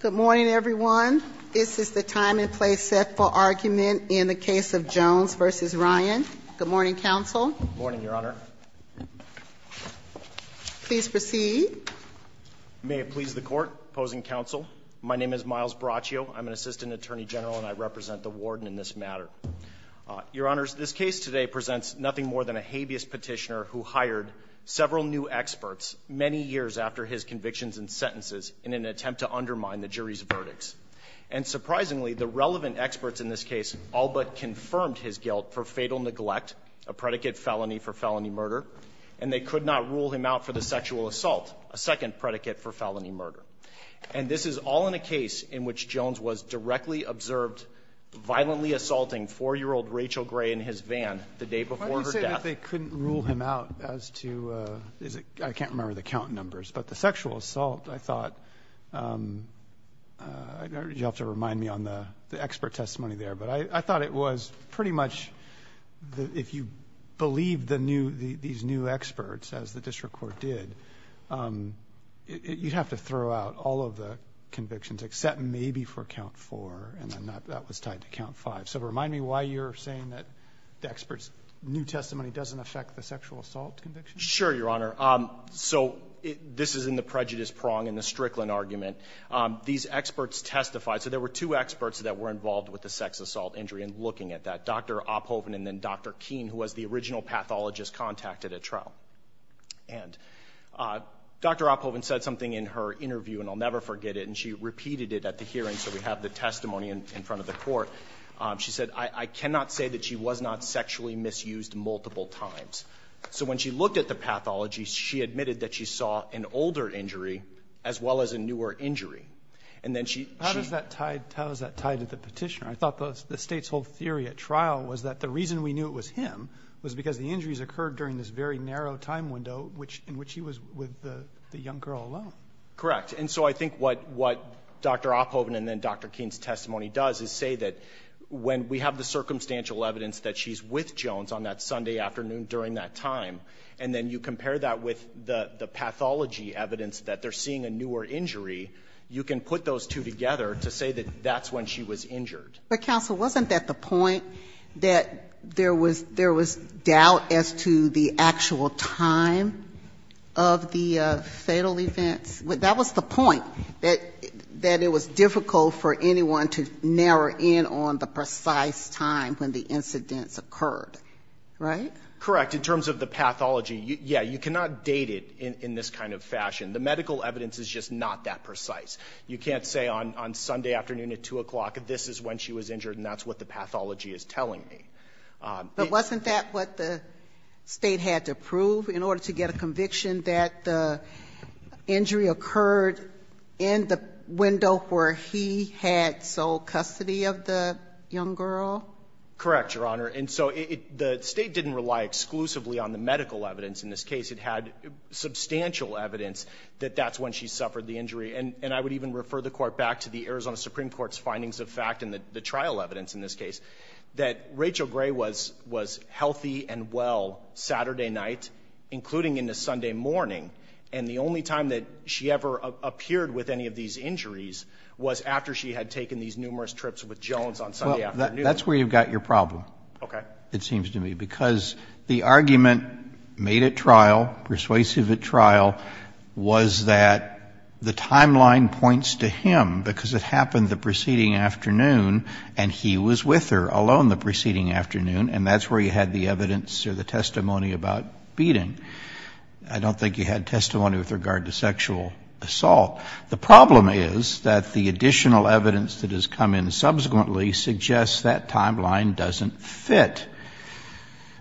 Good morning everyone. This is the time and place set for argument in the case of Jones v. Ryan. Good morning, counsel. Good morning, Your Honor. Please proceed. May it please the court, opposing counsel, my name is Miles Braccio. I'm an assistant attorney general and I represent the warden in this matter. Your Honors, this case today presents nothing more than a habeas petitioner who hired several new experts many years after his convictions and sentences in an attempt to undermine the jury's verdicts. And surprisingly, the relevant experts in this case all but confirmed his guilt for fatal neglect, a predicate felony for felony murder, and they could not rule him out for the sexual assault, a second predicate for felony murder. And this is all in a case in which Jones was directly observed violently assaulting 4-year-old Rachel Gray in his van the day before her death. I thought they couldn't rule him out as to, I can't remember the count numbers, but the sexual assault, I thought, you'll have to remind me on the expert testimony there, but I thought it was pretty much, if you believe these new experts, as the district court did, you'd have to throw out all of the convictions except maybe for count 4 and then that was tied to count 5. So remind me why you're saying that the expert's new testimony doesn't affect the sexual assault conviction? Sure, Your Honor. So this is in the prejudice prong and the Strickland argument. These experts testified, so there were two experts that were involved with the sex assault injury and looking at that, Dr. Oppoven and then Dr. Keene, who was the original pathologist contacted at trial. And Dr. Oppoven said something in her interview, and I'll never forget it, and she repeated it at the hearing, so we have the testimony in front of the court. She said, I cannot say that she was not sexually misused multiple times. So when she looked at the pathology, she admitted that she saw an older injury as well as a newer injury. How is that tied to the petitioner? I thought the state's whole theory at trial was that the reason we knew it was him was because the injuries occurred during this very narrow time window in which he was with the young girl alone. Correct, and so I think what Dr. Oppoven and then Dr. Keene's testimony does is say that when we have the circumstantial evidence that she's with Jones on that Sunday afternoon during that time, and then you compare that with the pathology evidence that they're seeing a newer injury, you can put those two together to say that that's when she was injured. But counsel, wasn't that the point that there was doubt as to the actual time of the fatal event? That was the point, that it was difficult for anyone to narrow in on the precise time when the incident occurred, right? Correct, in terms of the pathology, yeah, you cannot date it in this kind of fashion. The medical evidence is just not that precise. You can't say on Sunday afternoon at 2 o'clock, this is when she was injured and that's what the pathology is telling me. But wasn't that what the state had to prove in order to get a conviction that the injury occurred in the window where he had sole custody of the young girl? Correct, Your Honor. And so the state didn't rely exclusively on the medical evidence in this case. It had substantial evidence that that's when she suffered the injury. And I would even refer the court back to the Arizona Supreme Court's findings of fact and the trial evidence in this case that Rachel Gray was healthy and well Saturday night, including in the Sunday morning. And the only time that she ever appeared with any of these injuries was after she had taken these numerous trips with Jones on Sunday afternoon. That's where you've got your problem, it seems to me. Because the argument made at trial, persuasive at trial, was that the timeline points to him because it happened the preceding afternoon and he was with her along the preceding afternoon, and that's where you had the evidence or the testimony about beating. I don't think you had testimony with regard to sexual assault. The problem is that the additional evidence that has come in subsequently suggests that timeline doesn't fit.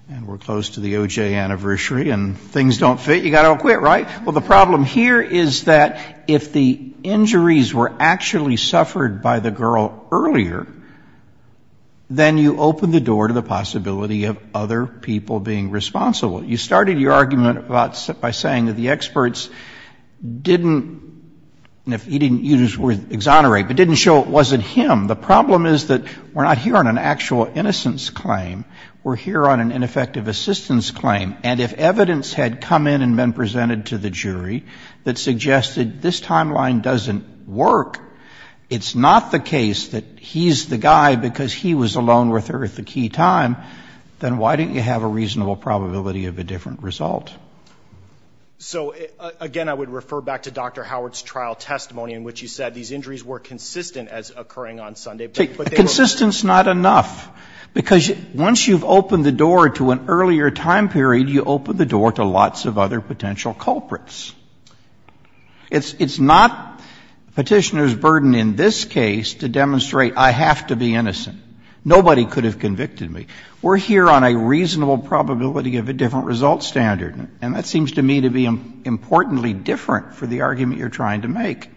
And we're close to the OJ anniversary and things don't fit, you've got to quit, right? Well, the problem here is that if the injuries were actually suffered by the girl earlier, then you open the door to the possibility of other people being responsible. You started your argument by saying that the experts didn't, he didn't use the word exonerate, but didn't show it wasn't him. The problem is that we're not here on an actual innocence claim, we're here on an ineffective assistance claim. And if evidence had come in and been presented to the jury that suggested this timeline doesn't work, it's not the case that he's the guy because he was alone with her at the key time, then why didn't you have a reasonable probability of a different result? So, again, I would refer back to Dr. Howard's trial testimony in which he said these injuries were consistent as occurring on Sunday. Consistence, not enough. Because once you've opened the door to an earlier time period, you open the door to lots of other potential culprits. It's not petitioner's burden in this case to demonstrate I have to be innocent. Nobody could have convicted me. We're here on a reasonable probability of a different result standard. And that seems to me to be importantly different from the argument you're trying to make.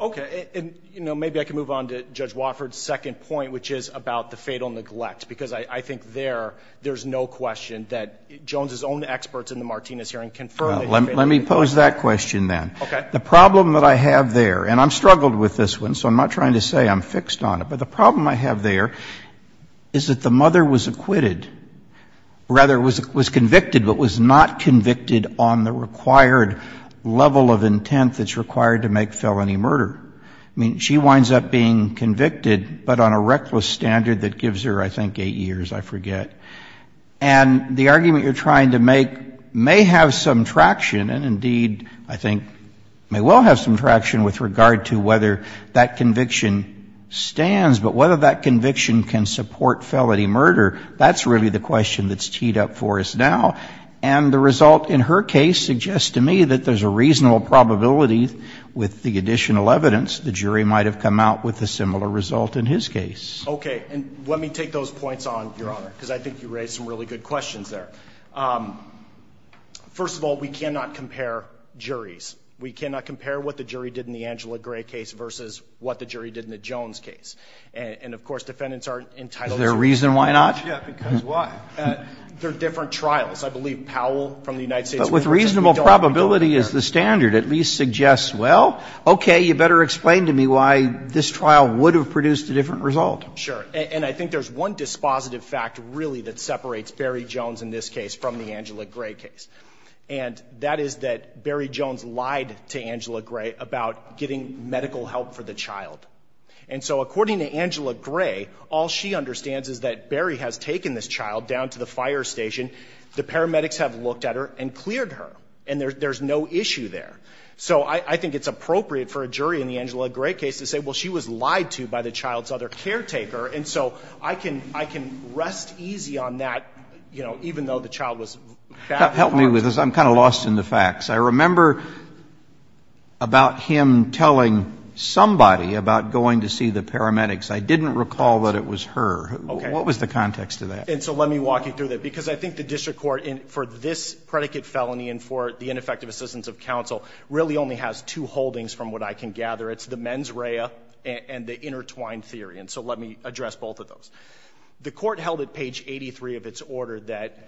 Okay. And, you know, maybe I can move on to Judge Wofford's second point, which is about the fatal neglect. Because I think there, there's no question that Jones's own experts in the Martinez hearing confirmed it. Let me pose that question then. Okay. The problem that I have there, and I'm struggled with this one, so I'm not trying to say I'm fixed on it, but the problem I have there is that the mother was acquitted. Rather, was convicted but was not convicted on the required level of intent that's required to make felony murder. I mean, she winds up being convicted but on a reckless standard that gives her, I think, eight years. I forget. And the argument you're trying to make may have some traction, and indeed, I think, may well have some traction with regard to whether that conviction stands, but whether that conviction can support felony murder, that's really the question that's teed up for us now. And the result in her case suggests to me that there's a reasonable probability with the additional evidence the jury might have come out with a similar result in his case. Okay. And let me take those points on, Your Honor, because I think you raised some really good questions there. First of all, we cannot compare juries. We cannot compare what the jury did in the Angela Gray case versus what the jury did in the Jones case. And, of course, defendants are entitled to- Is there a reason why not? Yeah, because why? There are different trials. I believe Powell from the United States- But with reasonable probability as the standard at least suggests, well, okay, maybe you better explain to me why this trial would have produced a different result. Sure. And I think there's one dispositive fact really that separates Barry Jones in this case from the Angela Gray case, and that is that Barry Jones lied to Angela Gray about getting medical help for the child. And so according to Angela Gray, all she understands is that Barry has taken this child down to the fire station. The paramedics have looked at her and cleared her, and there's no issue there. So I think it's appropriate for a jury in the Angela Gray case to say, well, she was lied to by the child's other caretaker. And so I can rest easy on that, you know, even though the child was fatally wounded. Help me with this. I'm kind of lost in the facts. I remember about him telling somebody about going to see the paramedics. I didn't recall that it was her. What was the context of that? And so let me walk you through that, because I think the district court, for this predicate felony and for the ineffective assistance of counsel, really only has two holdings from what I can gather. It's the mens rea and the intertwined theory. And so let me address both of those. The court held at page 83 of its order that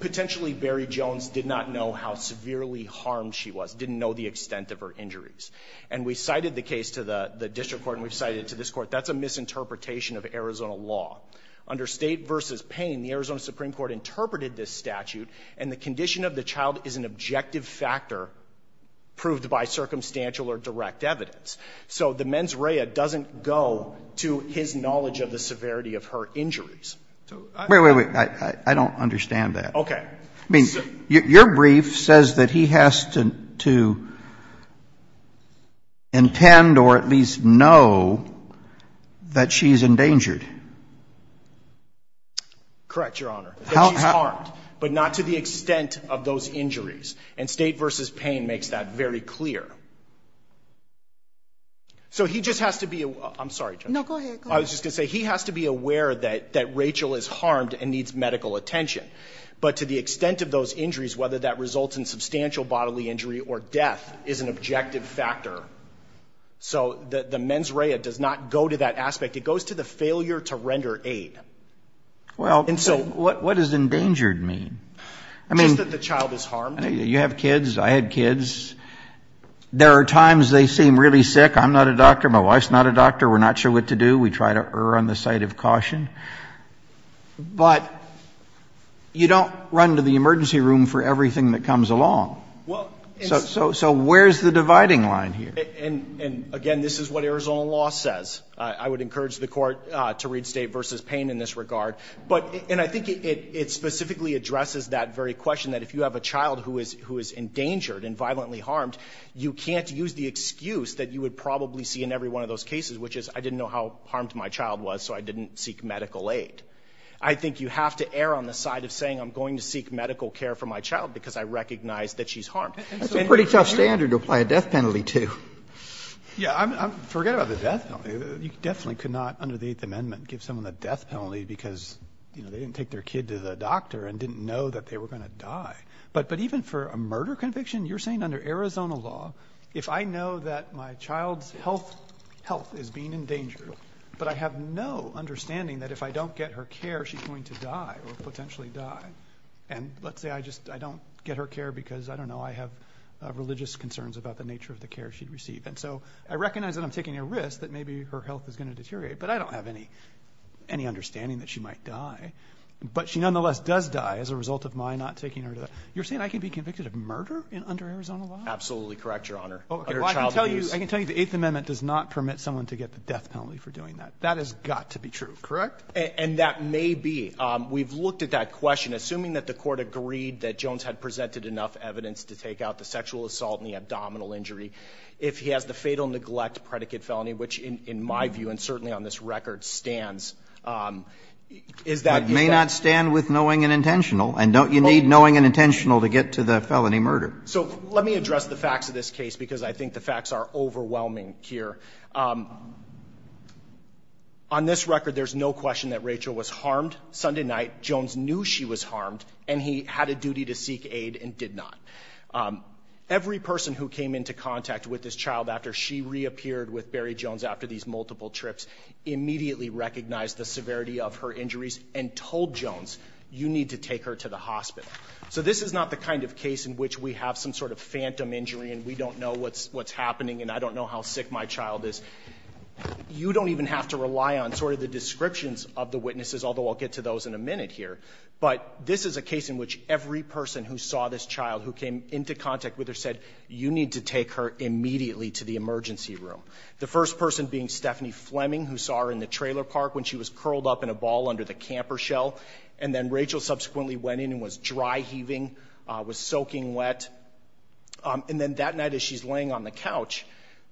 potentially Barry Jones did not know how severely harmed she was, didn't know the extent of her injuries. And we cited the case to the district court and we cited it to this court. That's a misinterpretation of Arizona law. Under state versus pain, the Arizona Supreme Court interpreted this statute, and the condition of the child is an objective factor proved by circumstantial or direct evidence. So the mens rea doesn't go to his knowledge of the severity of her injuries. Wait, wait, wait. I don't understand that. Okay. I mean, your brief says that he has to intend or at least know that she's in danger. Correct, Your Honor. That she's harmed, but not to the extent of those injuries. And state versus pain makes that very clear. So he just has to be aware. I'm sorry, Jennifer. No, go ahead. I was just going to say he has to be aware that Rachel is harmed and needs medical attention. But to the extent of those injuries, whether that results in substantial bodily injury or death, is an objective factor. So the mens rea does not go to that aspect. It goes to the failure to render aid. And so what does endangered mean? It means that the child is harmed. You have kids. I had kids. There are times they seem really sick. I'm not a doctor. My wife's not a doctor. We're not sure what to do. We try to err on the side of caution. But you don't run to the emergency room for everything that comes along. So where's the dividing line here? And, again, this is what Arizona law says. I would encourage the court to read state versus pain in this regard. And I think it specifically addresses that very question that if you have a child who is endangered and violently harmed, you can't use the excuse that you would probably see in every one of those cases, which is I didn't know how harmed my child was so I didn't seek medical aid. I think you have to err on the side of saying I'm going to seek medical care for my child because I recognize that she's harmed. That's a pretty tough standard to apply a death penalty to. Yeah, forget about the death penalty. You definitely could not, under the Eighth Amendment, give someone a death penalty because they didn't take their kid to the doctor and didn't know that they were going to die. But even for a murder conviction, you're saying under Arizona law, if I know that my child's health is being endangered, but I have no understanding that if I don't get her care, she's going to die or potentially die. And let's say I just don't get her care because, I don't know, I have religious concerns about the nature of the care she'd receive. And so I recognize that I'm taking a risk that maybe her health is going to deteriorate, but I don't have any understanding that she might die. But she nonetheless does die as a result of my not taking her to the doctor. You're saying I could be convicted of murder under Arizona law? Absolutely correct, Your Honor. I can tell you the Eighth Amendment does not permit someone to get the death penalty for doing that. That has got to be true. Correct? And that may be. We've looked at that question. Assuming that the court agreed that Jones had presented enough evidence to take out the sexual assault and the abdominal injury, if he has the fatal neglect predicate felony, which in my view and certainly on this record, stands. It may not stand with knowing and intentional. And you need knowing and intentional to get to the felony murder. So let me address the facts of this case because I think the facts are overwhelming here. On this record, there's no question that Rachel was harmed Sunday night. Jones knew she was harmed and he had a duty to seek aid and did not. Every person who came into contact with this child after she reappeared with Barry Jones after these multiple trips immediately recognized the severity of her injuries and told Jones, you need to take her to the hospital. So this is not the kind of case in which we have some sort of phantom injury and we don't know what's happening and I don't know how sick my child is. You don't even have to rely on sort of the descriptions of the witnesses, although I'll get to those in a minute here. But this is a case in which every person who saw this child who came into contact with her said, you need to take her immediately to the emergency room. The first person being Stephanie Fleming who saw her in the trailer park when she was curled up in a ball under the camper shell. And then Rachel subsequently went in and was dry heaving, was soaking wet. And then that night as she's laying on the couch,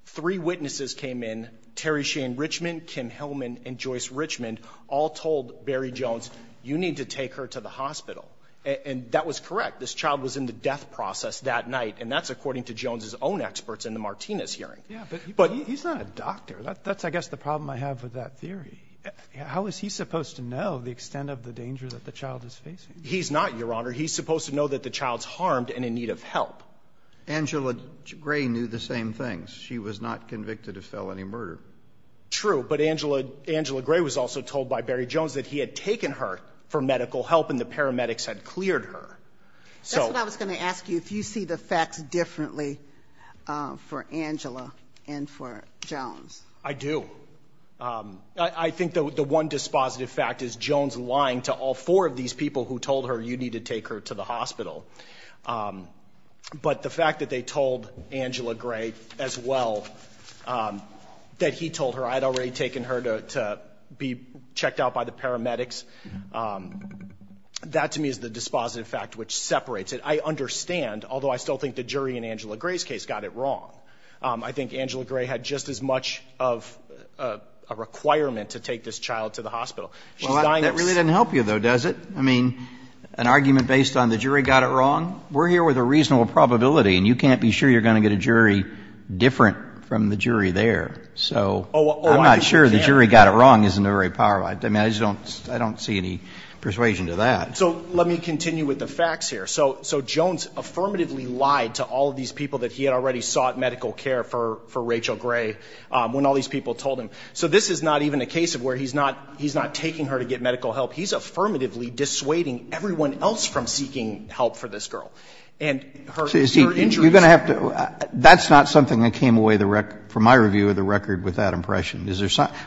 three witnesses came in, Terry Shane Richmond, Kim Hillman, and Joyce Richmond, all told Barry Jones, you need to take her to the hospital. And that was correct. This child was in the death process that night, and that's according to Jones' own experts in the Martinez hearing. He's not a doctor. That's, I guess, the problem I have with that theory. How is he supposed to know the extent of the danger that the child is facing? He's not, Your Honor. He's supposed to know that the child's harmed and in need of help. Angela Gray knew the same thing. She was not convicted of felony murder. True, but Angela Gray was also told by Barry Jones that he had taken her for medical help and the paramedics had cleared her. That's what I was going to ask you, if you see the facts differently for Angela and for Jones. I do. I think the one dispositive fact is Jones lying to all four of these people who told her, you need to take her to the hospital. But the fact that they told Angela Gray as well, that he told her, I had already taken her to be checked out by the paramedics, that to me is the dispositive fact which separates it. I understand, although I still think the jury in Angela Gray's case got it wrong. I think Angela Gray had just as much of a requirement to take this child to the hospital. That really doesn't help you, though, does it? I mean, an argument based on the jury got it wrong? We're here with a reasonable probability, and you can't be sure you're going to get a jury different from the jury there. So I'm not sure the jury got it wrong. I don't see any persuasion to that. So let me continue with the facts here. So Jones affirmatively lied to all of these people that he had already sought medical care for Rachel Gray when all these people told him. So this is not even a case of where he's not taking her to get medical help. He's affirmatively dissuading everyone else from seeking help for this girl. That's not something that came away from my review of the record with that impression.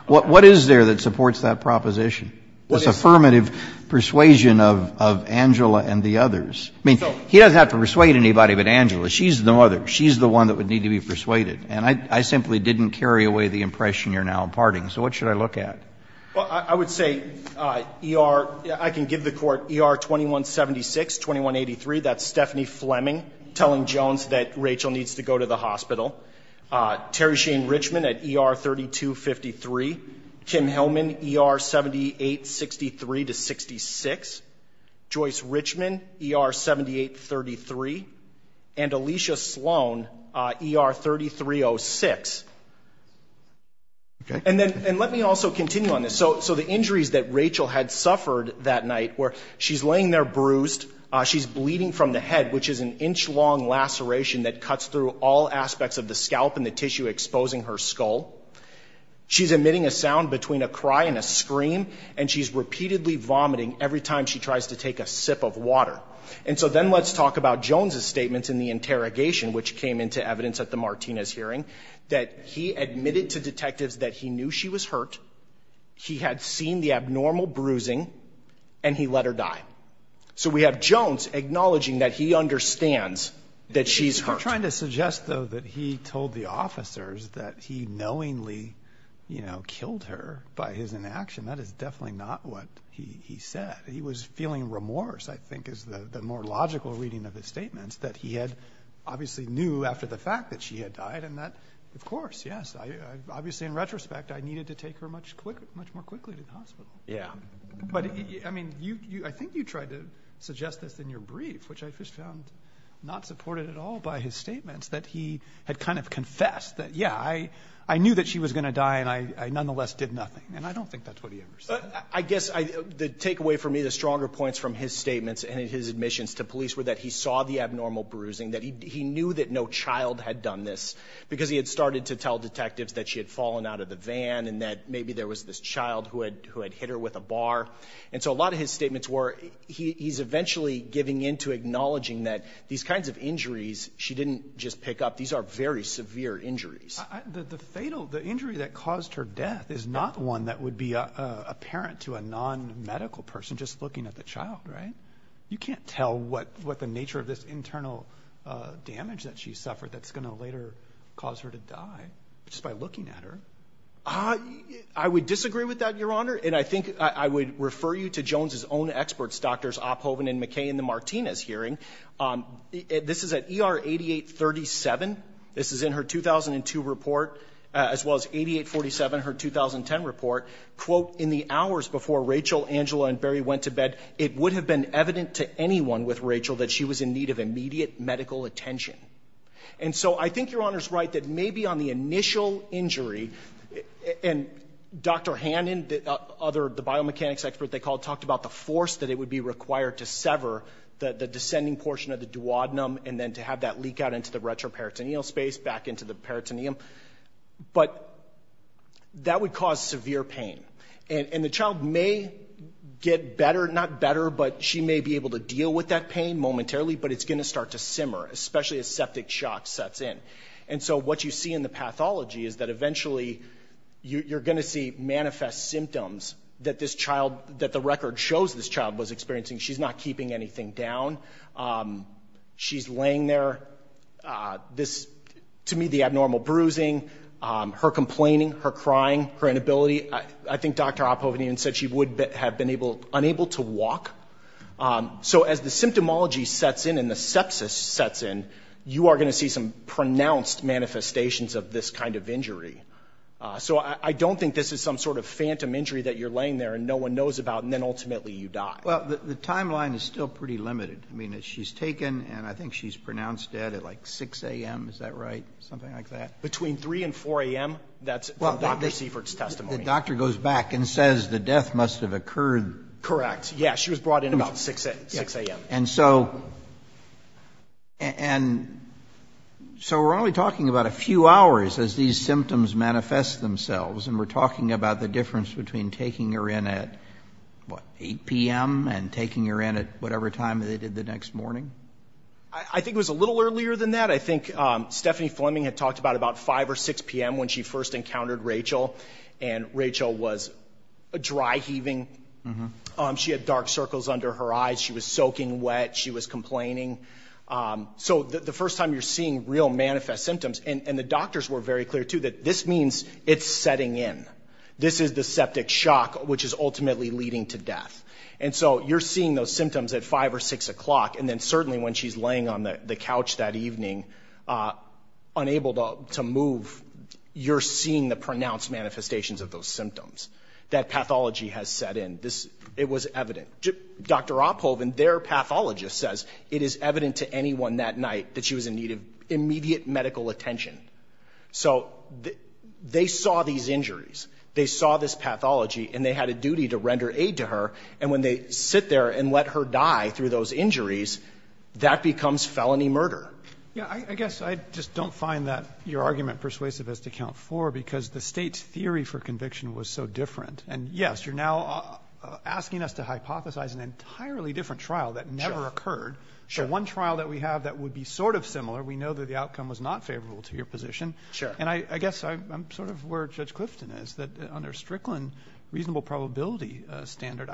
What is there that supports that proposition? This affirmative persuasion of Angela and the others. I mean, he doesn't have to persuade anybody but Angela. She's the mother. She's the one that would need to be persuaded. And I simply didn't carry away the impression you're now imparting. So what should I look at? Well, I would say ER, I can give the court ER 2176, 2183. That's Stephanie Fleming telling Jones that Rachel needs to go to the hospital. Terry Shane Richmond at ER 3253. Tim Hellman, ER 7863 to 66. Joyce Richmond, ER 7833. And Alicia Sloan, ER 3306. And let me also continue on this. So the injuries that Rachel had suffered that night where she's laying there bruised, she's bleeding from the head, which is an inch-long laceration that cuts through all aspects of the scalp and the tissue exposing her skull. She's emitting a sound between a cry and a scream, and she's repeatedly vomiting every time she tries to take a sip of water. And so then let's talk about Jones' statements in the interrogation, which came into evidence at the Martinez hearing, that he admitted to detectives that he knew she was hurt, he had seen the abnormal bruising, and he let her die. So we have Jones acknowledging that he understands that she's hurt. We're not trying to suggest, though, that he told the officers that he knowingly, you know, killed her by his inaction. That is definitely not what he said. He was feeling remorse, I think is the more logical reading of his statements, that he had obviously knew after the fact that she had died, and that, of course, yes. Obviously, in retrospect, I needed to take her much more quickly than possible. Yeah. But, I mean, I think you tried to suggest this in your brief, which I just found not supported at all by his statements, that he had kind of confessed that, yeah, I knew that she was going to die, and I nonetheless did nothing. And I don't think that's what he ever said. I guess the takeaway for me, the stronger points from his statements and his admissions to police, were that he saw the abnormal bruising, that he knew that no child had done this, because he had started to tell detectives that she had fallen out of the van and that maybe there was this child who had hit her with a bar. And so a lot of his statements were he's eventually giving in to acknowledging that these kinds of injuries she didn't just pick up. These are very severe injuries. The fatal, the injury that caused her death is not one that would be apparent to a non-medical person just looking at the child, right? You can't tell what the nature of this internal damage that she suffered that's going to later cause her to die just by looking at her. I would disagree with that, Your Honor. And I think I would refer you to Jones's own experts, Drs. Opphoven and McKay in the Martinez hearing. This is at ER 8837. This is in her 2002 report, as well as 8847, her 2010 report. Quote, in the hours before Rachel, Angela, and Barry went to bed, it would have been evident to anyone with Rachel that she was in need of immediate medical attention. And so I think Your Honor's right that maybe on the initial injury, and Dr. Hannon, the biomechanics expert they called, talked about the force that it would be required to sever the descending portion of the duodenum and then to have that leak out into the retroperitoneal space, back into the peritoneum. But that would cause severe pain. And the child may get better, not better, but she may be able to deal with that pain momentarily, but it's going to start to simmer, especially as septic shock sets in. And so what you see in the pathology is that eventually you're going to see manifest symptoms that the record shows this child was experiencing. She's not keeping anything down. She's laying there. To me, the abnormal bruising, her complaining, her crying, her inability, I think Dr. Opphoven even said she would have been unable to walk. So as the symptomology sets in and the sepsis sets in, you are going to see some pronounced manifestations of this kind of injury. So I don't think this is some sort of phantom injury that you're laying there and no one knows about, and then ultimately you die. Well, the timeline is still pretty limited. I mean, she's taken, and I think she's pronounced dead at like 6 a.m., is that right, something like that? Between 3 and 4 a.m., that's Dr. Sievert's testimony. The doctor goes back and says the death must have occurred. Correct. Yeah, she was brought in about 6 a.m. And so we're only talking about a few hours as these symptoms manifest themselves, and we're talking about the difference between taking her in at 8 p.m. and taking her in at whatever time they did the next morning? I think it was a little earlier than that. I think Stephanie Fleming had talked about about 5 or 6 p.m. when she first encountered Rachel, and Rachel was dry heaving. She had dark circles under her eyes. She was soaking wet. She was complaining. So the first time you're seeing real manifest symptoms, and the doctors were very clear, too, that this means it's setting in. This is the septic shock, which is ultimately leading to death. And so you're seeing those symptoms at 5 or 6 o'clock, and then certainly when she's laying on the couch that evening unable to move, you're seeing the pronounced manifestations of those symptoms. That pathology has set in. It was evident. Dr. Opphoven, their pathologist, says it is evident to anyone that night that she was in need of immediate medical attention. So they saw these injuries. They saw this pathology, and they had a duty to render aid to her, and when they sit there and let her die through those injuries, that becomes felony murder. Yeah, I guess I just don't find that your argument persuasive as to count four because the state's theory for conviction was so different. And, yes, you're now asking us to hypothesize an entirely different trial that never occurred. The one trial that we have that would be sort of similar, we know that the outcome was not favorable to your position. And I guess I'm sort of where Judge Clifton is, that under Strickland reasonable probability standard,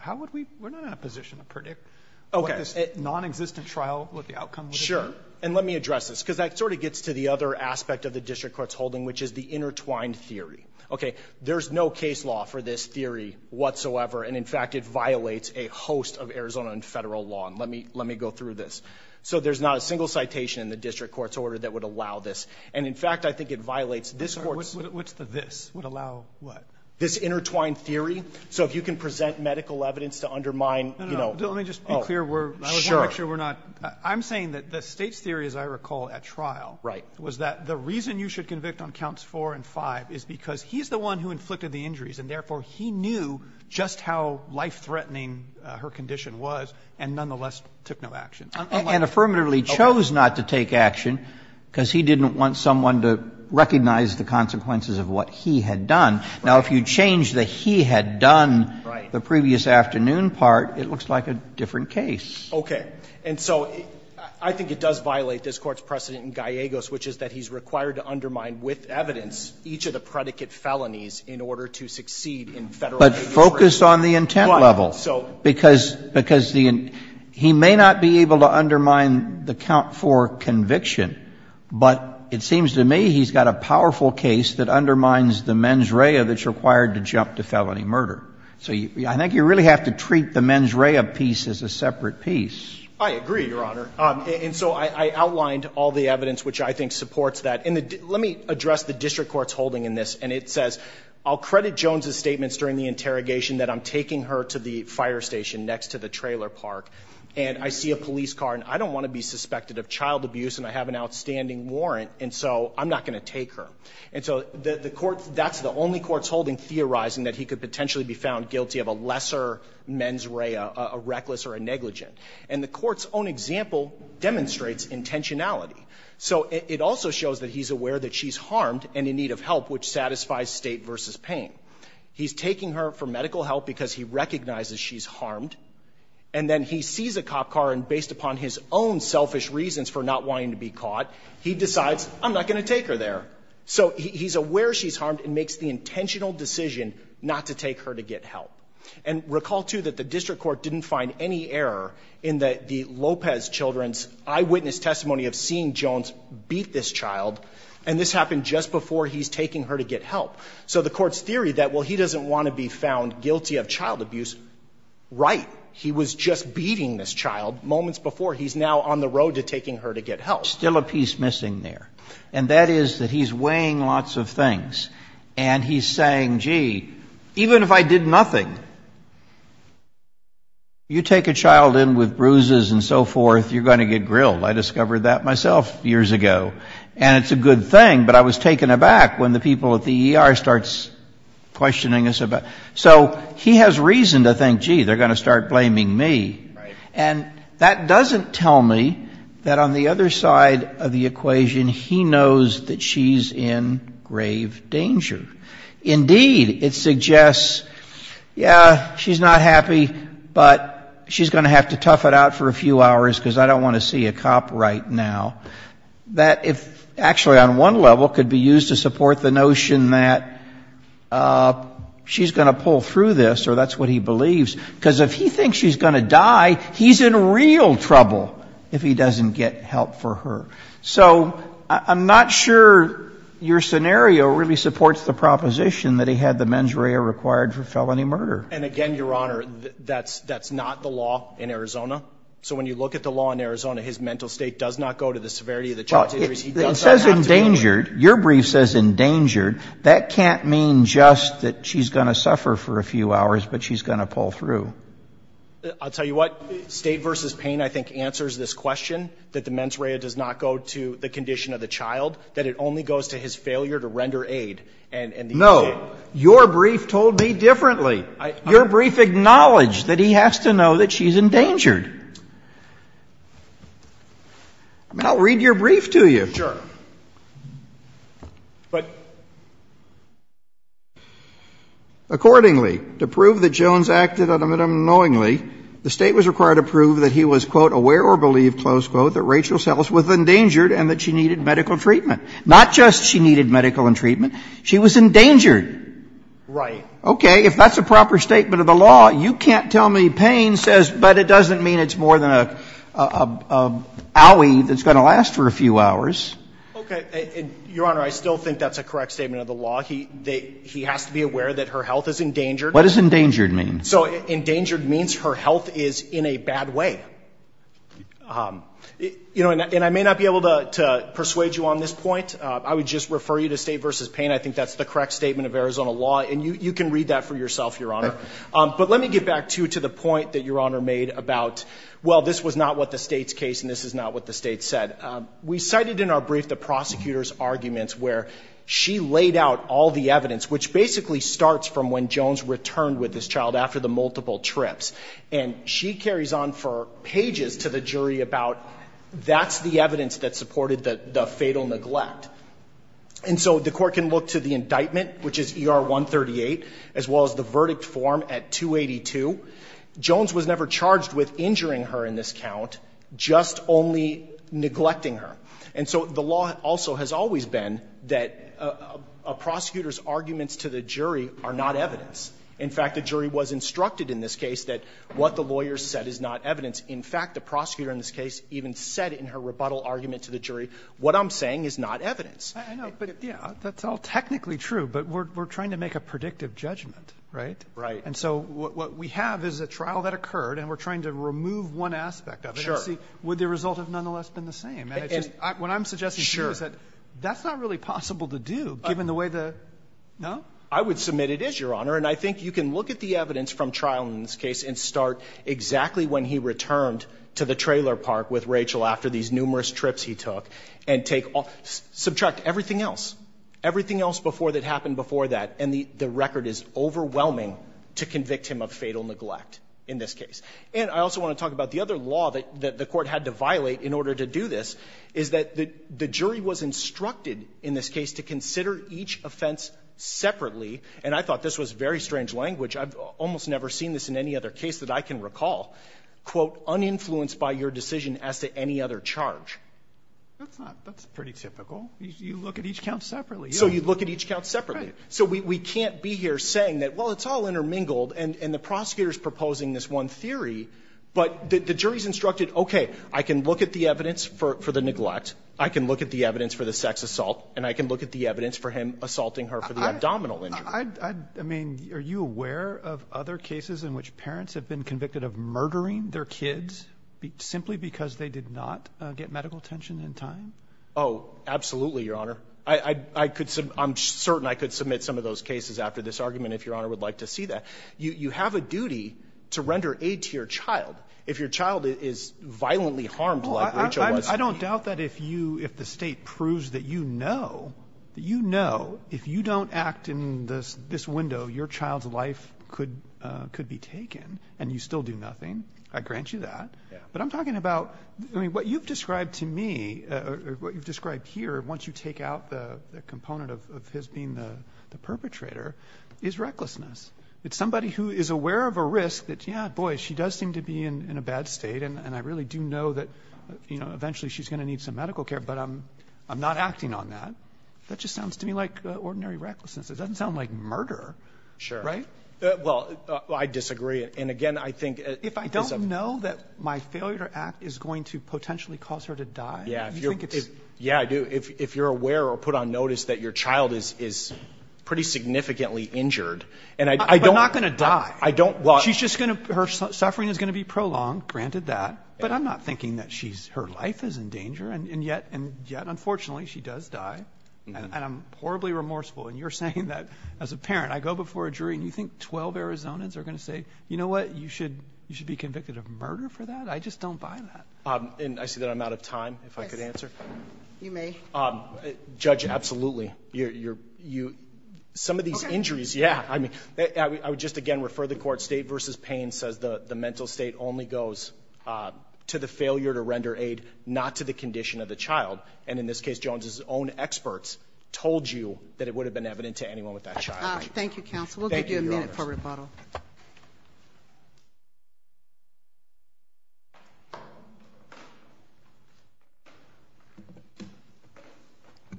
how would we – we're not in a position to predict. Okay. What, this non-existent trial, what the outcome would be? Sure. And let me address this because that sort of gets to the other aspect of the district court's holding, which is the intertwined theory. Okay, there's no case law for this theory whatsoever, and, in fact, it violates a host of Arizona and federal law. And let me go through this. So there's not a single citation in the district court's order that would allow this. And, in fact, I think it violates this court's – What's the this? Would allow what? This intertwined theory. So if you can present medical evidence to undermine – Let me just be clear. I want to make sure we're not – I'm saying that the state's theory, as I recall at trial, was that the reason you should convict on counts four and five is because he's the one who inflicted the injuries, and therefore he knew just how life-threatening her condition was and nonetheless took no action. And affirmatively chose not to take action because he didn't want someone to recognize the consequences of what he had done. Now, if you change the he had done, the previous afternoon part, it looks like a different case. Okay. And so I think it does violate this court's precedent in Gallegos, which is that he's required to undermine with evidence each of the predicate felonies in order to succeed in federal – But focus on the intent level. Because he may not be able to undermine the count four conviction, but it seems to me he's got a powerful case that undermines the mens rea that's required to jump to felony murder. So I think you really have to treat the mens rea piece as a separate piece. I agree, Your Honor. And so I outlined all the evidence which I think supports that. And let me address the district court's holding in this. And it says, I'll credit Jones's statements during the interrogation that I'm taking her to the fire station next to the trailer park, and I see a police car, and I don't want to be suspected of child abuse, and I have an outstanding warrant, and so I'm not going to take her. And so that's the only court's holding theorizing that he could potentially be found guilty of a lesser mens rea, a reckless or a negligent. And the court's own example demonstrates intentionality. So it also shows that he's aware that she's harmed and in need of help, which satisfies state versus pain. He's taking her for medical help because he recognizes she's harmed, and then he sees a cop car, and based upon his own selfish reasons for not wanting to be caught, he decides, I'm not going to take her there. So he's aware she's harmed and makes the intentional decision not to take her to get help. And recall, too, that the district court didn't find any error in the Lopez children's eyewitness testimony of seeing Jones beat this child, and this happened just before he's taking her to get help. So the court's theory that, well, he doesn't want to be found guilty of child abuse, right. He was just beating this child moments before. He's now on the road to taking her to get help. There's still a piece missing there, and that is that he's weighing lots of things, and he's saying, gee, even if I did nothing, you take a child in with bruises and so forth, you're going to get grilled. I discovered that myself years ago. And it's a good thing, but I was taken aback when the people at the ER started questioning us about it. So he has reason to think, gee, they're going to start blaming me. And that doesn't tell me that on the other side of the equation, he knows that she's in grave danger. Indeed, it suggests, yeah, she's not happy, but she's going to have to tough it out for a few hours because I don't want to see a cop right now. That actually on one level could be used to support the notion that she's going to pull through this, or that's what he believes, because if he thinks she's going to die, he's in real trouble if he doesn't get help for her. So I'm not sure your scenario really supports the proposition that he had the mens rea required for felony murder. And again, Your Honor, that's not the law in Arizona. So when you look at the law in Arizona, his mental state does not go to the severity of the charges. It says endangered. Your brief says endangered. That can't mean just that she's going to suffer for a few hours, but she's going to pull through. I'll tell you what, State v. Payne, I think, answers this question, that the mens rea does not go to the condition of the child, that it only goes to his failure to render aid. No, your brief told me differently. Your brief acknowledged that he has to know that she's endangered. I mean, I'll read your brief to you. Sure. But... Accordingly, to prove that Jones acted unknowingly, the State was required to prove that he was, quote, aware or believed, close quote, that Rachel's health was endangered and that she needed medical treatment. Not just she needed medical and treatment, she was endangered. Right. Okay, if that's a proper statement of the law, you can't tell me Payne says, but it doesn't mean it's more than an alley that's going to last for a few hours. Okay, your Honor, I still think that's a correct statement of the law. He has to be aware that her health is endangered. What does endangered mean? So, endangered means her health is in a bad way. You know, and I may not be able to persuade you on this point. I would just refer you to State v. Payne. I think that's the correct statement of Arizona law, and you can read that for yourself, your Honor. But let me get back to you to the point that your Honor made about, well, this was not what the State's case and this is not what the State said. We cited in our brief the prosecutor's arguments where she laid out all the evidence, which basically starts from when Jones returned with his child after the multiple trips, and she carries on for pages to the jury about that's the evidence that supported the fatal neglect. And so the court can look to the indictment, which is ER 138, as well as the verdict form at 282. Jones was never charged with injuring her in this count, just only neglecting her. And so the law also has always been that a prosecutor's arguments to the jury are not evidence. In fact, the jury was instructed in this case that what the lawyer said is not evidence. In fact, the prosecutor in this case even said in her rebuttal argument to the jury, what I'm saying is not evidence. That's all technically true, but we're trying to make a predictive judgment, right? Right. And so what we have is a trial that occurred, and we're trying to remove one aspect of it. Would the result have nonetheless been the same? What I'm suggesting to you is that that's not really possible to do, given the way the – no? I would submit it is, Your Honor. And I think you can look at the evidence from trial in this case and start exactly when he returned to the trailer park with Rachel after these numerous trips he took and subtract everything else, everything else that happened before that, and the record is overwhelming to convict him of fatal neglect in this case. And I also want to talk about the other law that the court had to violate in order to do this is that the jury was instructed in this case to consider each offense separately, and I thought this was very strange language. I've almost never seen this in any other case that I can recall, quote, uninfluenced by your decision as to any other charge. That's pretty typical. You look at each count separately. So you look at each count separately. So we can't be here saying that, well, it's all intermingled, and the prosecutor is proposing this one theory, but the jury's instructed, okay, I can look at the evidence for the neglect, I can look at the evidence for the sex assault, and I can look at the evidence for him assaulting her for the abdominal injury. I mean, are you aware of other cases in which parents have been convicted of murdering their kids simply because they did not get medical attention in time? Oh, absolutely, Your Honor. I'm certain I could submit some of those cases after this argument if Your Honor would like to see that. You have a duty to render aid to your child if your child is violently harmed like Rachel was. I don't doubt that if the state proves that you know, that you know if you don't act in this window, your child's life could be taken, and you still do nothing. I grant you that. But I'm talking about what you've described to me, what you've described here, once you take out the component of his being the perpetrator, is recklessness. It's somebody who is aware of a risk that, yeah, boy, she does seem to be in a bad state, and I really do know that, you know, eventually she's going to need some medical care, but I'm not acting on that. That just sounds to me like ordinary recklessness. It doesn't sound like murder. Sure. Right? Well, I disagree. And, again, I think – If I don't know that my failure to act is going to potentially cause her to die – Yeah, if you're aware or put on notice that your child is pretty significantly injured – But not going to die. She's just going to – her suffering is going to be prolonged, granted that, but I'm not thinking that her life is in danger, and yet, unfortunately, she does die, and I'm horribly remorseful. And you're saying that, as a parent, I go before a jury, and you think 12 Arizonans are going to say, you know what, you should be convicted of murder for that? I just don't buy that. And I see that I'm out of time, if I could answer. Judge, absolutely. Some of these injuries – Okay. Yeah, I would just, again, refer the court. State v. Payne says the mental state only goes to the failure to render aid, not to the condition of the child. And, in this case, Jones's own experts told you that it would have been evident to anyone with that child. Thank you, counsel. We'll give you a minute for rebuttal.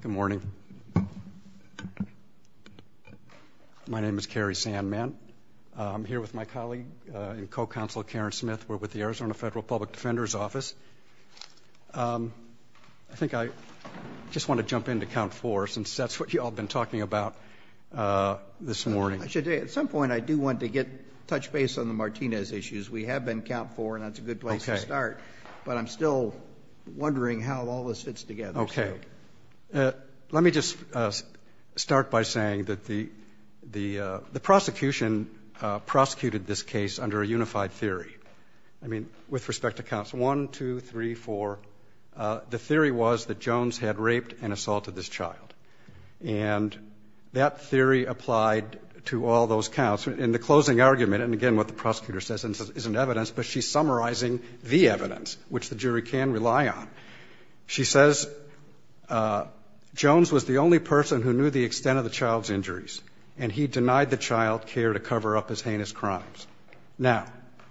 Good morning. My name is Cary Sandman. I'm here with my colleague and co-counsel, Karen Smith. We're with the Arizona Federal Public Defender's Office. I think I just want to jump in to count four, since that's what you all have been talking about this morning. I should say, at some point, I do want to get touch base on the Martinez issues. We have been count four, and that's a good place to start. Okay. But I'm still wondering how all this fits together. Okay. Let me just start by saying that the prosecution prosecuted this case under a unified theory. I mean, with respect to counts one, two, three, four, the theory was that Jones had raped and assaulted this child. And that theory applied to all those counts. In the closing argument, and, again, what the prosecutor says isn't evidence, but she's summarizing the evidence, which the jury can rely on. She says Jones was the only person who knew the extent of the child's injuries, and he denied the child care to cover up his heinous crimes. Now,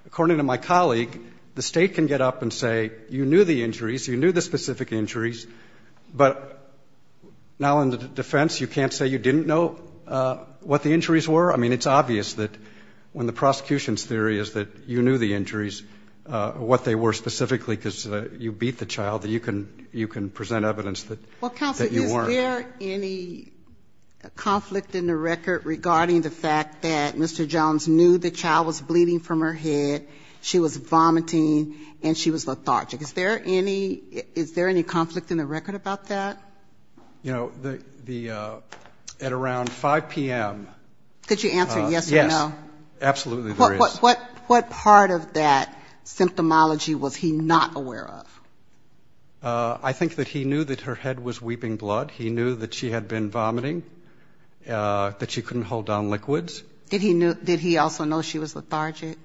according to my colleague, the state can get up and say, you knew the injuries, you knew the specific injuries, but now in the defense you can't say you didn't know what the injuries were? I mean, it's obvious that when the prosecution's theory is that you knew the injuries, what they were specifically because you beat the child, you can present evidence that you weren't. Counselor, is there any conflict in the record regarding the fact that Mr. Jones knew the child was bleeding from her head, she was vomiting, and she was lethargic? Is there any conflict in the record about that? You know, at around 5 p.m. Could you answer yes or no? Yes. Absolutely there is. What part of that symptomology was he not aware of? I think that he knew that her head was weeping blood. He knew that she had been vomiting, that she couldn't hold down liquids. Did he also know she was lethargic?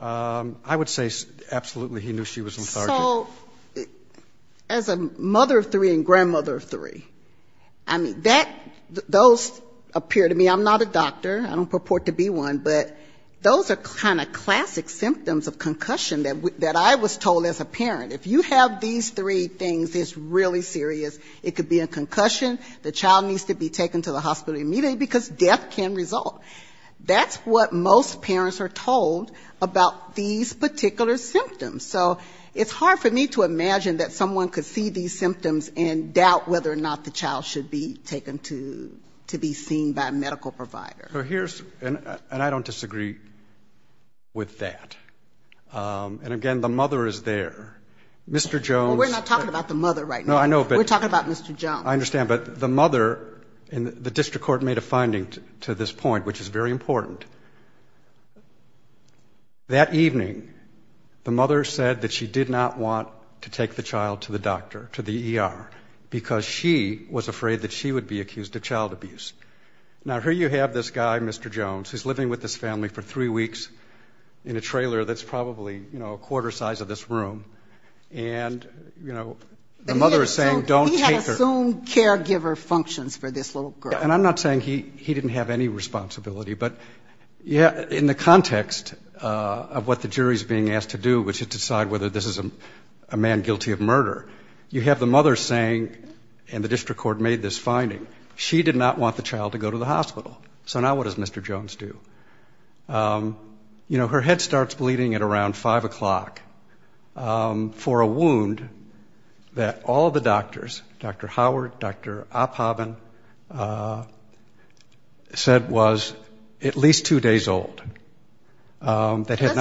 I would say absolutely he knew she was lethargic. So as a mother of three and grandmother of three, I mean, those appear to me, I'm not a doctor, I don't purport to be one, but those are kind of classic symptoms of concussion that I was told as a parent. If you have these three things, it's really serious. It could be a concussion, the child needs to be taken to the hospital immediately because death can result. That's what most parents are told about these particular symptoms. So it's hard for me to imagine that someone could see these symptoms and doubt whether or not the child should be taken to be seen by a medical provider. And I don't disagree with that. And, again, the mother is there. Mr. Jones. We're not talking about the mother right now. No, I know. We're talking about Mr. Jones. I understand. But the mother, and the district court made a finding to this point, which is very important. That evening, the mother said that she did not want to take the child to the doctor, to the ER, because she was afraid that she would be accused of child abuse. Now, here you have this guy, Mr. Jones, who's living with this family for three weeks in a trailer that's probably a quarter size of this room. And, you know, the mother is saying don't take her. He had assumed caregiver functions for this little girl. And I'm not saying he didn't have any responsibility. But, yeah, in the context of what the jury is being asked to do, which is to decide whether this is a man guilty of murder, you have the mother saying, and the district court made this finding, she did not want the child to go to the hospital. So now what does Mr. Jones do? You know, her head starts bleeding at around 5 o'clock for a wound that all the doctors, Dr. Howard, Dr. Opphaben, said was at least two days old. That had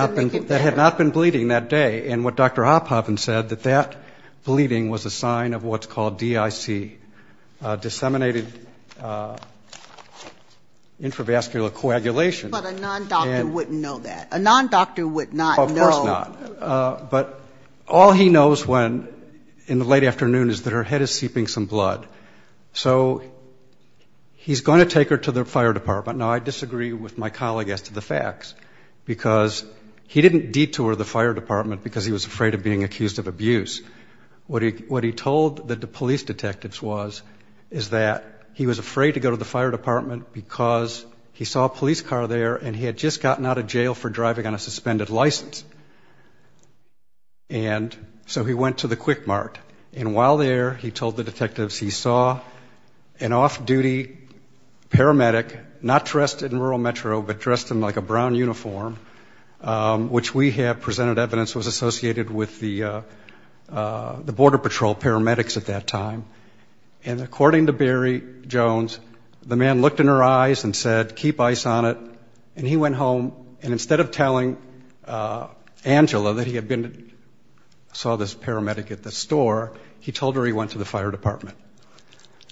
not been bleeding that day. And what Dr. Opphaben said, that that bleeding was a sign of what's called DIC, disseminated intravascular coagulation. But a non-doctor wouldn't know that. A non-doctor would not know. Of course not. But all he knows when in the late afternoon is that her head is seeping some blood. So he's going to take her to the fire department. No, I disagree with my colleague as to the facts. Because he didn't detour the fire department because he was afraid of being accused of abuse. What he told the police detectives was is that he was afraid to go to the fire department because he saw a police car there and he had just gotten out of jail for driving on a suspended license. And so he went to the Quick Mart. And while there, he told the detectives he saw an off-duty paramedic, not dressed in rural metro, but dressed in like a brown uniform, which we have presented evidence was associated with the Border Patrol paramedics at that time. And according to Barry Jones, the man looked in her eyes and said, keep ice on it. And he went home. And instead of telling Angela that he had been, saw this paramedic at the store, he told her he went to the fire department.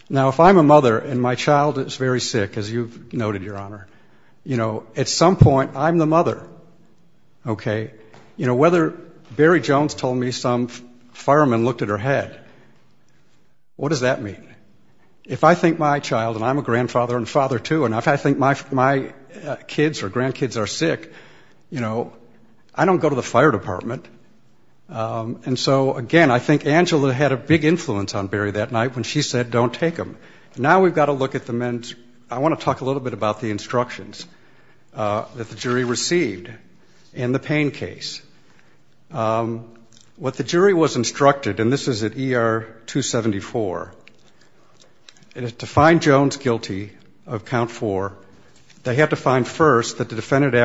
Now, if I'm a mother and my child is very sick, as you've noted, Your Honor, you know, at some point I'm the mother. OK. You know, whether Barry Jones told me some fireman looked at her head. What does that mean? If I think my child, and I'm a grandfather and father too, and if I think my kids or grandkids are sick, you know, I don't go to the fire department. And so, again, I think Angela had a big influence on Barry that night when she said don't take him. Now we've got to look at the men's. I want to talk a little bit about the instructions that the jury received in the pain case. What the jury was instructed, and this is at ER 274, is to find Jones guilty of count four, they have to find first that the defendant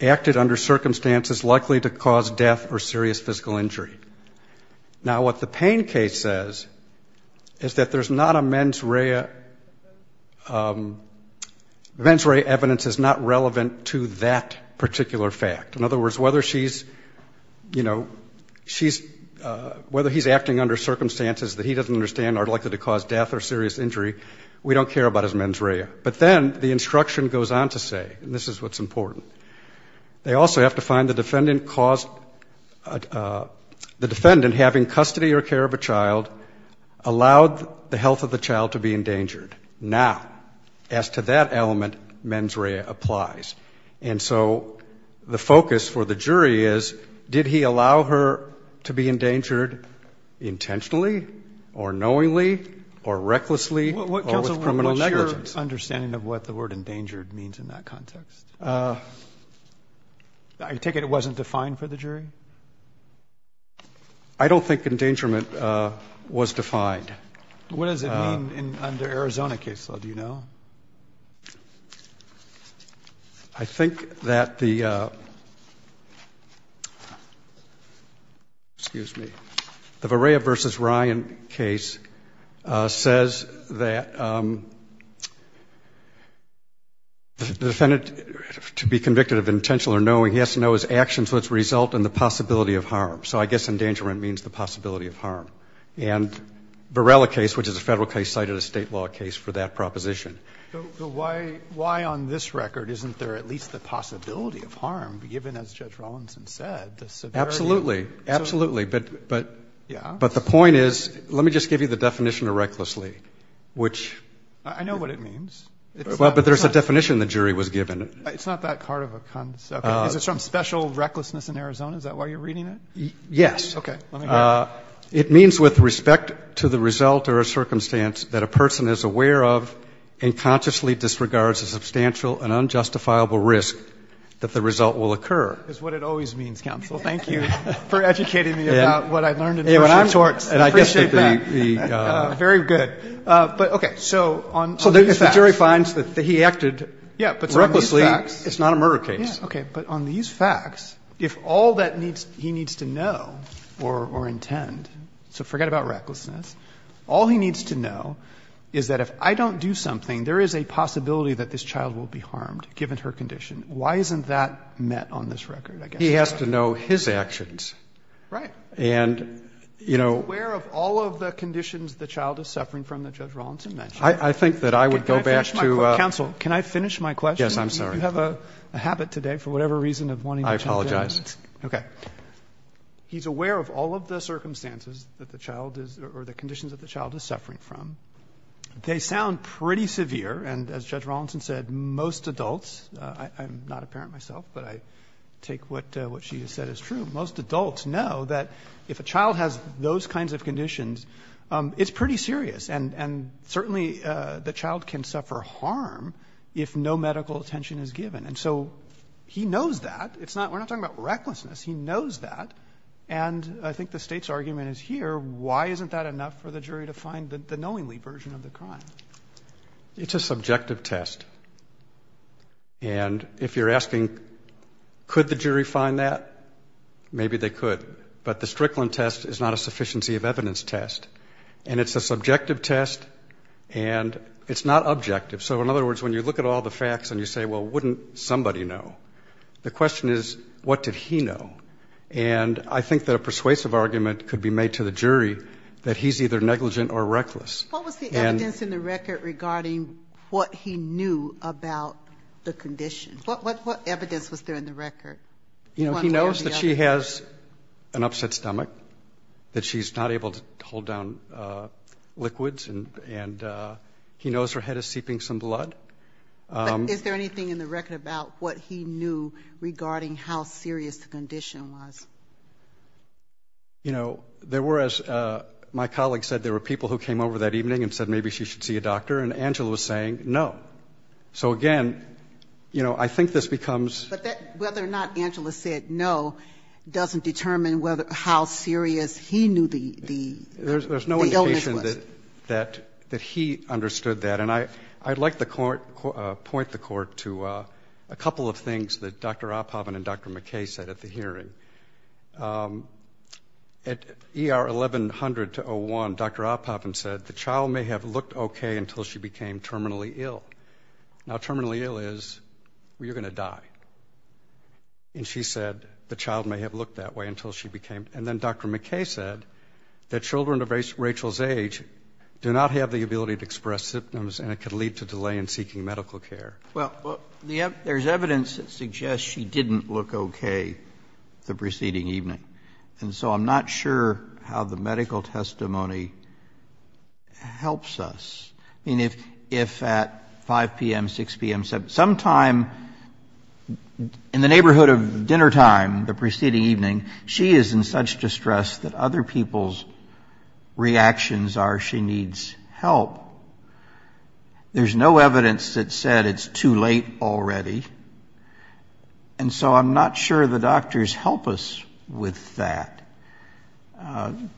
acted under circumstances likely to cause death or serious physical injury. Now, what the pain case says is that there's not a mens rea. Mens rea evidence is not relevant to that particular fact. In other words, whether he's acting under circumstances that he doesn't understand are likely to cause death or serious injury, we don't care about his mens rea. But then the instruction goes on to say, and this is what's important, they also have to find the defendant having custody or care of a child allowed the health of the child to be endangered. Now, as to that element, mens rea applies. And so the focus for the jury is, did he allow her to be endangered intentionally or knowingly or recklessly or with criminal negligence? What's your understanding of what the word endangered means in that context? I take it it wasn't defined for the jury? I don't think endangerment was defined. What does it mean under Arizona case law, do you know? I think that the Verea v. Ryan case says that the defendant, to be convicted of intentional or knowing, he has to know his actions must result in the possibility of harm. So I guess endangerment means the possibility of harm. And Varella case, which is a federal case, cited a state law case for that proposition. So why on this record isn't there at least the possibility of harm given, as Judge Rollinson said, the severity? Absolutely, absolutely. But the point is, let me just give you the definition of recklessly. I know what it means. Well, but there's a definition the jury was given. It's not that part of a concept. It's from special recklessness in Arizona, is that why you're reading it? Yes. Okay. It means with respect to the result or a circumstance that a person is aware of and consciously disregards a substantial and unjustifiable risk that the result will occur. That's what it always means, counsel. Thank you for educating me about what I learned. Very good. So the jury finds that he acted recklessly. It's not a murder case. Okay. But on these facts, if all that he needs to know or intend, so forget about recklessness. All he needs to know is that if I don't do something, there is a possibility that this child will be harmed given her condition. Why isn't that met on this record? He has to know his actions. Right. And, you know. Be aware of all of the conditions the child is suffering from that Judge Rollinson mentioned. I think that I would go back to. Counsel, can I finish my question? Yes, I'm sorry. You have a habit today for whatever reason of wanting to change that. I apologize. Okay. He's aware of all of the circumstances that the child is, or the conditions that the child is suffering from. They sound pretty severe. And as Judge Rollinson said, most adults, I'm not a parent myself, but I take what she said as true, most adults know that if a child has those kinds of conditions, it's pretty serious. And certainly the child can suffer harm if no medical attention is given. And so he knows that. We're not talking about recklessness. He knows that. And I think the state's argument is here. Why isn't that enough for the jury to find the knowingly version of the crime? It's a subjective test. And if you're asking could the jury find that, maybe they could. But the Strickland test is not a sufficiency of evidence test. And it's a subjective test, and it's not objective. So in other words, when you look at all the facts and you say, well, wouldn't somebody know? The question is, what did he know? And I think that a persuasive argument could be made to the jury that he's either negligent or reckless. What was the evidence in the record regarding what he knew about the condition? What evidence was there in the record? You know, he knows that she has an upset stomach, that she's not able to hold down liquids, and he knows her head is seeping some blood. Is there anything in the record about what he knew regarding how serious the condition was? You know, there were, as my colleague said, there were people who came over that evening and said maybe she should see a doctor, and Angela was saying no. So, again, you know, I think this becomes... But whether or not Angela said no doesn't determine how serious he knew the illness was. There's no indication that he understood that. And I'd like to point the court to a couple of things that Dr. Oppoven and Dr. McKay said at the hearing. At ER 1100-01, Dr. Oppoven said the child may have looked okay until she became terminally ill. Now, terminally ill is where you're going to die. And she said the child may have looked that way until she became... And then Dr. McKay said that children of Rachel's age do not have the ability to express symptoms and it could lead to delay in seeking medical care. Well, there's evidence that suggests she didn't look okay the preceding evening. And so I'm not sure how the medical testimony helps us. I mean, if at 5 p.m., 6 p.m., sometime in the neighborhood of dinnertime the preceding evening, she is in such distress that other people's reactions are she needs help, there's no evidence that said it's too late already. And so I'm not sure the doctors help us with that.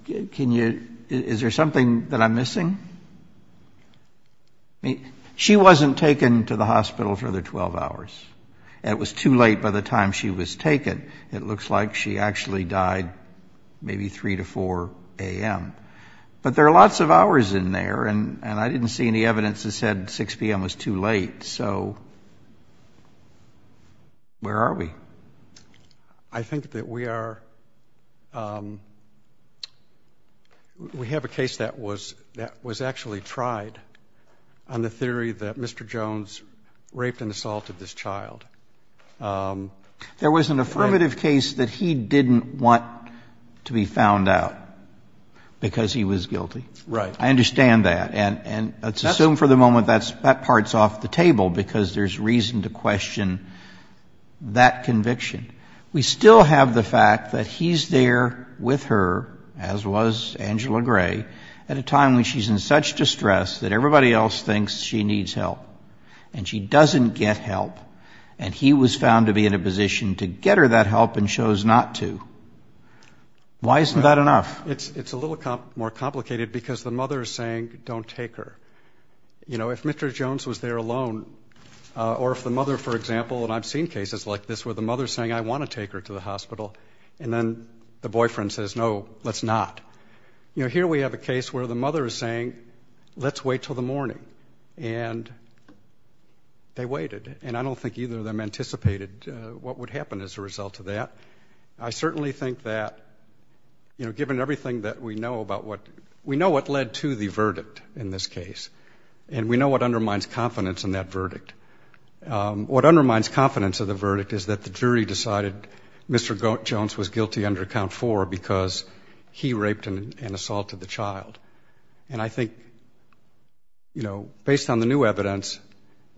Is there something that I'm missing? She wasn't taken to the hospital for the 12 hours. It was too late by the time she was taken. It looks like she actually died maybe 3 to 4 a.m. But there are lots of hours in there, and I didn't see any evidence that said 6 p.m. was too late. So where are we? I think that we are... We have a case that was actually tried on the theory that Mr. Jones raped and assaulted this child. There was an affirmative case that he didn't want to be found out because he was guilty. Right. I understand that, and let's assume for the moment that part's off the table because there's reason to question that conviction. We still have the fact that he's there with her, as was Angela Gray, at a time when she's in such distress that everybody else thinks she needs help, and she doesn't get help, and he was found to be in a position to get her that help and chose not to. Why isn't that enough? It's a little more complicated because the mother is saying, don't take her. If Mr. Jones was there alone, or if the mother, for example, and I've seen cases like this where the mother is saying, I want to take her to the hospital, and then the boyfriend says, no, let's not. Here we have a case where the mother is saying, let's wait till the morning, and they waited, and I don't think either of them anticipated what would happen as a result of that. I certainly think that, you know, given everything that we know about what, we know what led to the verdict in this case, and we know what undermines confidence in that verdict. What undermines confidence in the verdict is that the jury decided Mr. Jones was guilty under count four because he raped and assaulted the child. And I think, you know, based on the new evidence,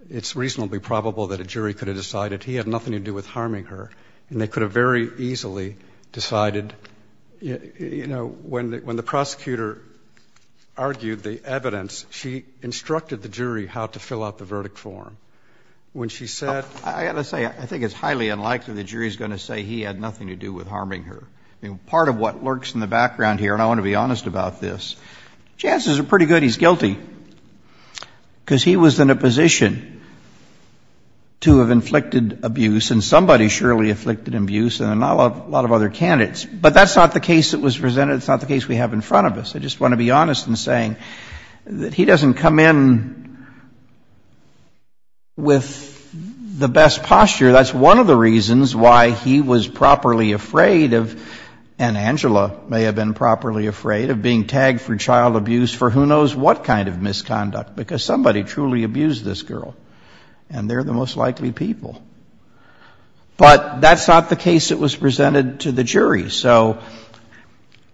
it's reasonably probable that a jury could have decided he had nothing to do with harming her, and they could have very easily decided, you know, when the prosecutor argued the evidence, she instructed the jury how to fill out the verdict form. When she said – I have to say, I think it's highly unlikely the jury is going to say he had nothing to do with harming her. Part of what lurks in the background here, and I want to be honest about this, chances are pretty good he's guilty because he was in a position to have inflicted abuse, and somebody surely afflicted abuse, and a lot of other candidates. But that's not the case that was presented. It's not the case we have in front of us. I just want to be honest in saying that he doesn't come in with the best posture. That's one of the reasons why he was properly afraid of – and Angela may have been properly afraid of being tagged for child abuse for who knows what kind of misconduct because somebody truly abused this girl, and they're the most likely people. But that's not the case that was presented to the jury. So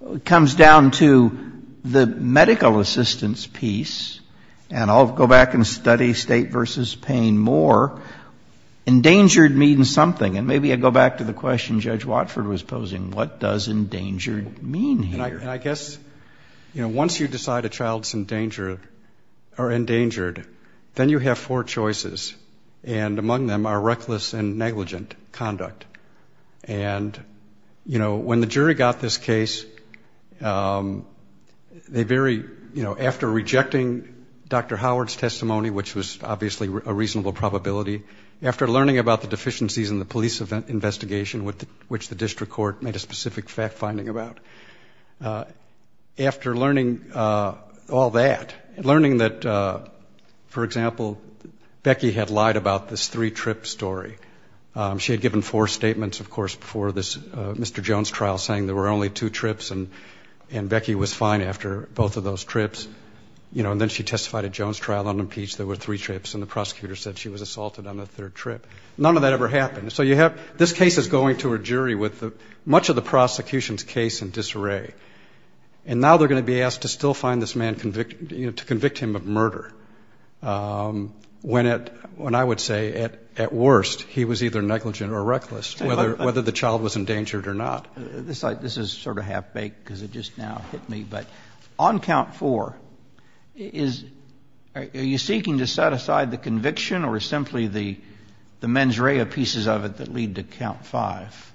it comes down to the medical assistance piece, and I'll go back and study state versus pain more. Endangered means something, and maybe I go back to the question Judge Watford was posing. What does endangered mean here? I guess once you decide a child is endangered, then you have four choices, and among them are reckless and negligent conduct. And when the jury got this case, after rejecting Dr. Howard's testimony, which was obviously a reasonable probability, after learning about the deficiencies in the police investigation, which the district court made a specific fact-finding about, after learning all that, learning that, for example, Becky had lied about this three-trip story. She had given four statements, of course, before this Mr. Jones trial, saying there were only two trips and Becky was fine after both of those trips. And then she testified at Jones' trial unimpeached, there were three trips, and the prosecutor said she was assaulted on the third trip. None of that ever happened. So this case is going to a jury with much of the prosecution's case in disarray, and now they're going to be asked to still find this man, to convict him of murder, when, I would say, at worst, he was either negligent or reckless, whether the child was endangered or not. This is sort of half-baked because it just now hit me, but on count four, are you seeking to set aside the conviction or simply the mens rea pieces of it that lead to count five?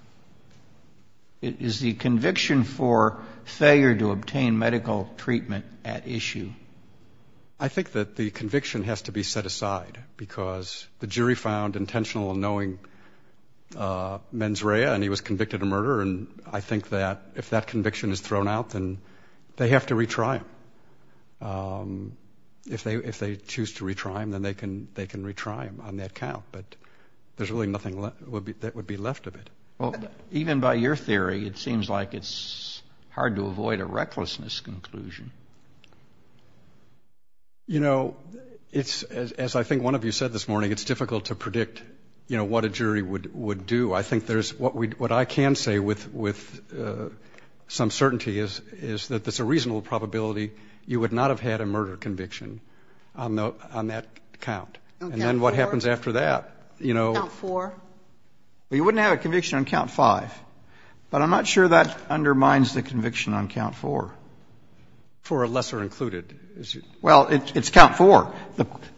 Is the conviction for failure to obtain medical treatment at issue? I think that the conviction has to be set aside, because the jury found intentional in knowing mens rea and he was convicted of murder, and I think that if that conviction is thrown out, then they have to retry him. If they choose to retry him, then they can retry him on that count, but there's really nothing that would be left of it. Even by your theory, it seems like it's hard to avoid a recklessness conclusion. You know, as I think one of you said this morning, it's difficult to predict what a jury would do. I think what I can say with some certainty is that there's a reasonable probability you would not have had a murder conviction on that count, and then what happens after that? On count four? You wouldn't have a conviction on count five, but I'm not sure that undermines the conviction on count four. For a lesser included? Well, it's count four.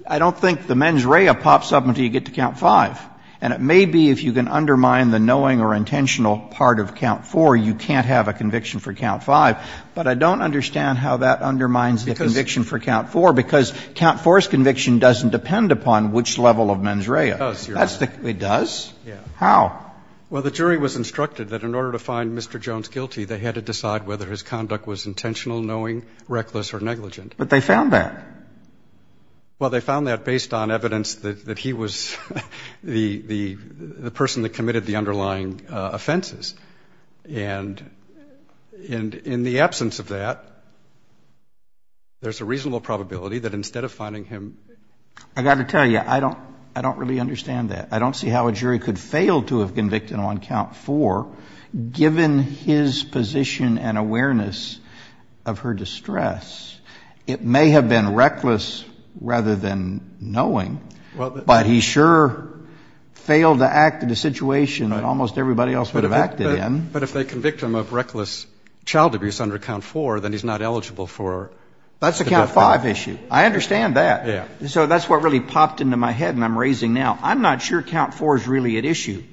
I don't think the mens rea pops up until you get to count five, and it may be if you can undermine the knowing or intentional part of count four, you can't have a conviction for count five, but I don't understand how that undermines the conviction for count four, because count four's conviction doesn't depend upon which level of mens rea. It does. It does? Yeah. How? Well, the jury was instructed that in order to find Mr. Jones guilty, they had to decide whether his conduct was intentional, knowing, reckless, or negligent. But they found that. Well, they found that based on evidence that he was the person that committed the underlying offenses, and in the absence of that, there's a reasonable probability that instead of finding him... I've got to tell you, I don't really understand that. I don't see how a jury could fail to have convicted him on count four, given his position and awareness of her distress. It may have been reckless rather than knowing, but he sure failed to act in a situation that almost everybody else would have acted in. But if they convict him of reckless child abuse under count four, then he's not eligible for... That's the count five issue. I understand that. Yeah. So that's what really popped into my head, and I'm raising now. I'm not sure count four is really at issue.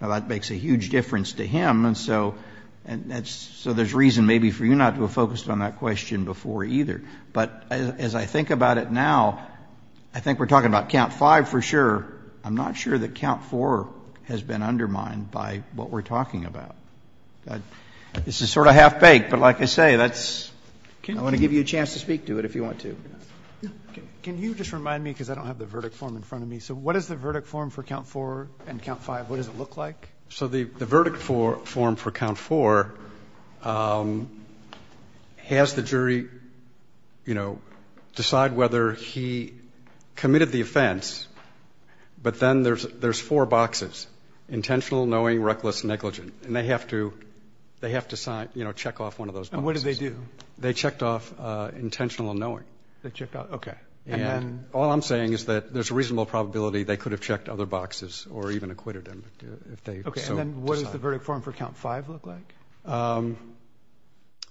That makes a huge difference to him, and so there's reason maybe for you not to have focused on that question before either. But as I think about it now, I think we're talking about count five for sure. I'm not sure that count four has been undermined by what we're talking about. This is sort of half-baked, but like I say, I'm going to give you a chance to speak to it if you want to. Can you just remind me, because I don't have the verdict form in front of me. So what is the verdict form for count four and count five? What does it look like? So the verdict form for count four has the jury decide whether he committed the offense, but then there's four boxes, intentional, knowing, reckless, and negligent, and they have to check off one of those boxes. And what did they do? They checked off intentional and knowing. Okay. All I'm saying is that there's a reasonable probability they could have checked other boxes or even acquitted him. Okay. And then what does the verdict form for count five look like?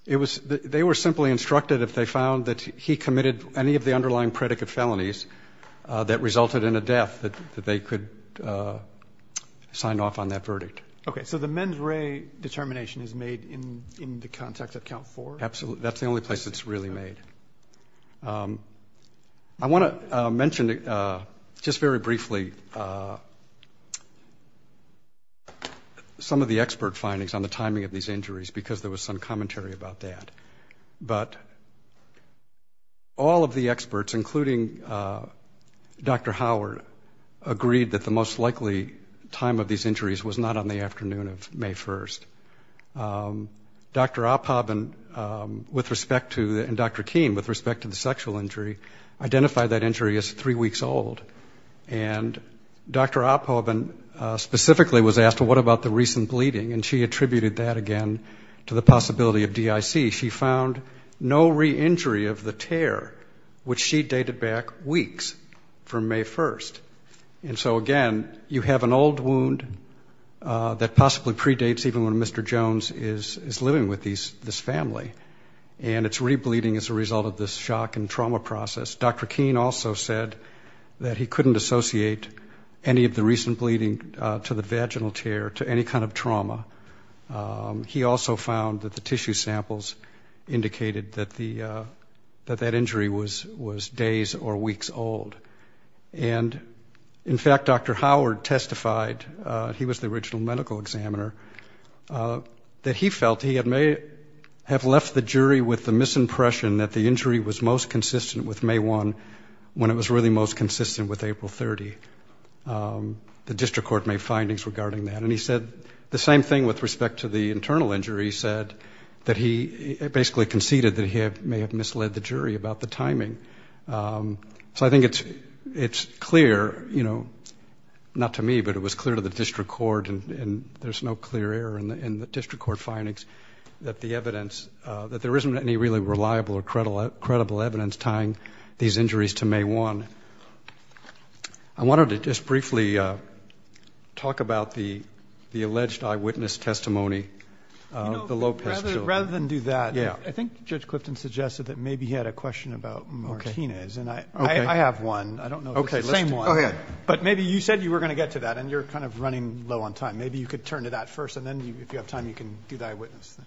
They were simply instructed if they found that he committed any of the underlying predicate felonies that resulted in a death that they could sign off on that verdict. Okay. So the mens re determination is made in the context of count four? Absolutely. That's the only place it's really made. I want to mention just very briefly some of the expert findings on the timing of these injuries because there was some commentary about that. But all of the experts, including Dr. Howard, agreed that the most likely time of these injuries was not on the afternoon of May 1st. Dr. Oppobin and Dr. Keen, with respect to the sexual injury, identified that injury as three weeks old. And Dr. Oppobin specifically was asked, well, what about the recent bleeding? And she attributed that, again, to the possibility of DIC. She found no re-injury of the tear, which she dated back weeks from May 1st. And so, again, you have an old wound that possibly predates even when Mr. Jones is living with this family, and it's re-bleeding as a result of this shock and trauma process. Dr. Keen also said that he couldn't associate any of the recent bleeding to the vaginal tear to any kind of trauma. He also found that the tissue samples indicated that that injury was days or weeks old. And, in fact, Dr. Howard testified, he was the original medical examiner, that he felt he had left the jury with the misimpression that the injury was most consistent with May 1, when it was really most consistent with April 30. The district court made findings regarding that. And he said the same thing with respect to the internal injury. He said that he basically conceded that he may have misled the jury about the timing. So I think it's clear, you know, not to me, but it was clear to the district court, and there's no clear error in the district court findings, that there isn't any really reliable or credible evidence tying these injuries to May 1. I wanted to just briefly talk about the alleged eyewitness testimony. Rather than do that, I think Judge Clifton suggested that maybe he had a question about Martinez. I have one. I don't know if it's the same one. But maybe you said you were going to get to that, and you're kind of running low on time. Maybe you could turn to that first, and then if you have time, you can do the eyewitness thing.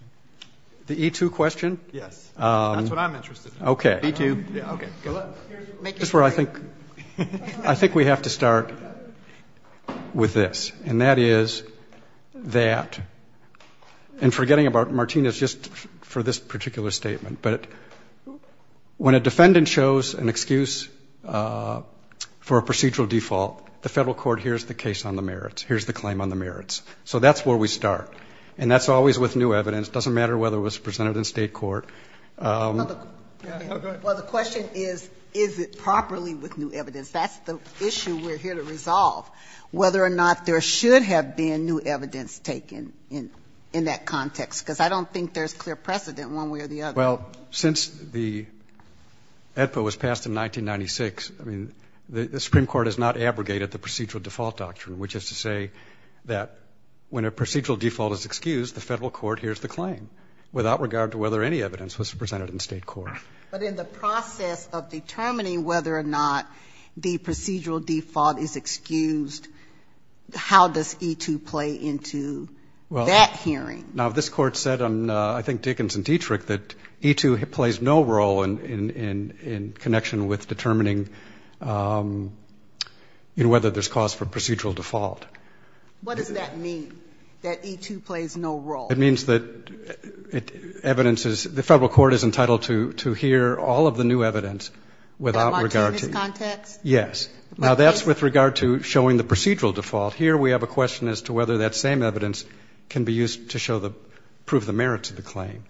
The E2 question? Yes. That's what I'm interested in. Okay. I think we have to start with this, and that is that, and forgetting about Martinez just for this particular statement, but when a defendant shows an excuse for a procedural default, the federal court hears the case on the merits, hears the claim on the merits. So that's where we start, and that's always with new evidence. It doesn't matter whether it was presented in state court. Go ahead. Well, the question is, is it properly with new evidence? That's the issue we're here to resolve, whether or not there should have been new evidence taken in that context, because I don't think there's clear precedent one way or the other. Well, since the EDPA was passed in 1996, the Supreme Court has not abrogated the procedural default doctrine, which is to say that when a procedural default is excused, the federal court hears the claim, without regard to whether any evidence was presented in state court. But in the process of determining whether or not the procedural default is excused, how does E2 play into that hearing? Now, this Court said, I think Dickens and Dietrich, that E2 plays no role in connection with determining whether there's cause for procedural default. What does that mean, that E2 plays no role? It means that evidence is, the federal court is entitled to hear all of the new evidence, without regard to... Without his context? Yes. Now, that's with regard to showing the procedural default. Here, we have a question as to whether that same evidence can be used to prove the merits of the claim.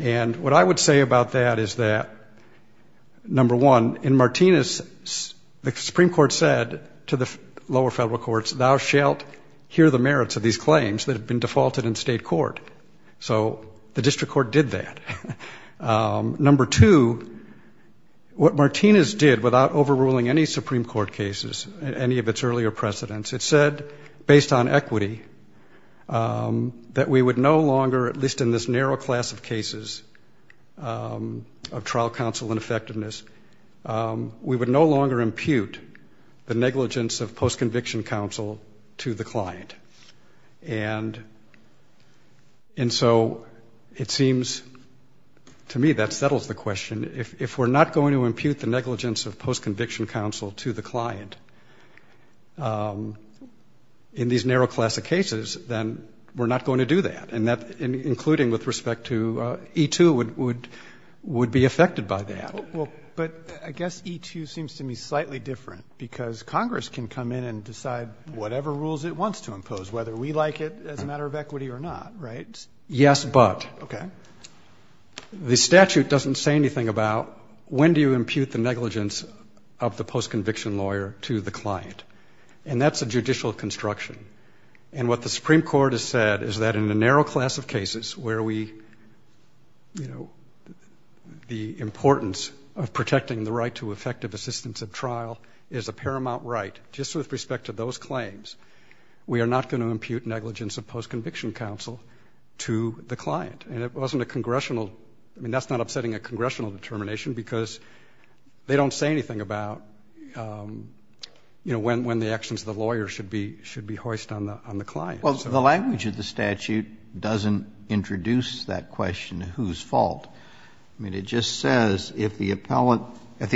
And what I would say about that is that, number one, in Martinez, the Supreme Court said to the lower federal courts, thou shalt hear the merits of these claims that have been defaulted in state court. So the district court did that. Number two, what Martinez did, without overruling any Supreme Court cases in any of its earlier precedents, it said, based on equity, that we would no longer, at least in this narrow class of cases, of trial counsel ineffectiveness, we would no longer impute the negligence of post-conviction counsel to the client. And so it seems to me that settles the question. If we're not going to impute the negligence of post-conviction counsel to the client in these narrow class of cases, then we're not going to do that. And that, including with respect to E2, would be affected by that. Well, but I guess E2 seems to me slightly different, because Congress can come in and decide whatever rules it wants to impose, whether we like it as a matter of equity or not, right? Yes, but the statute doesn't say anything about when do you impute the negligence of the post-conviction lawyer to the client. And that's a judicial construction. And what the Supreme Court has said is that in the narrow class of cases where the importance of protecting the right to effective assistance at trial is a paramount right, just with respect to those claims, we are not going to impute negligence of post-conviction counsel to the client. And that's not upsetting a congressional determination, because they don't say anything about when the actions of the lawyer should be hoist on the client. Well, the language of the statute doesn't introduce that question of whose fault. I mean, it just says if the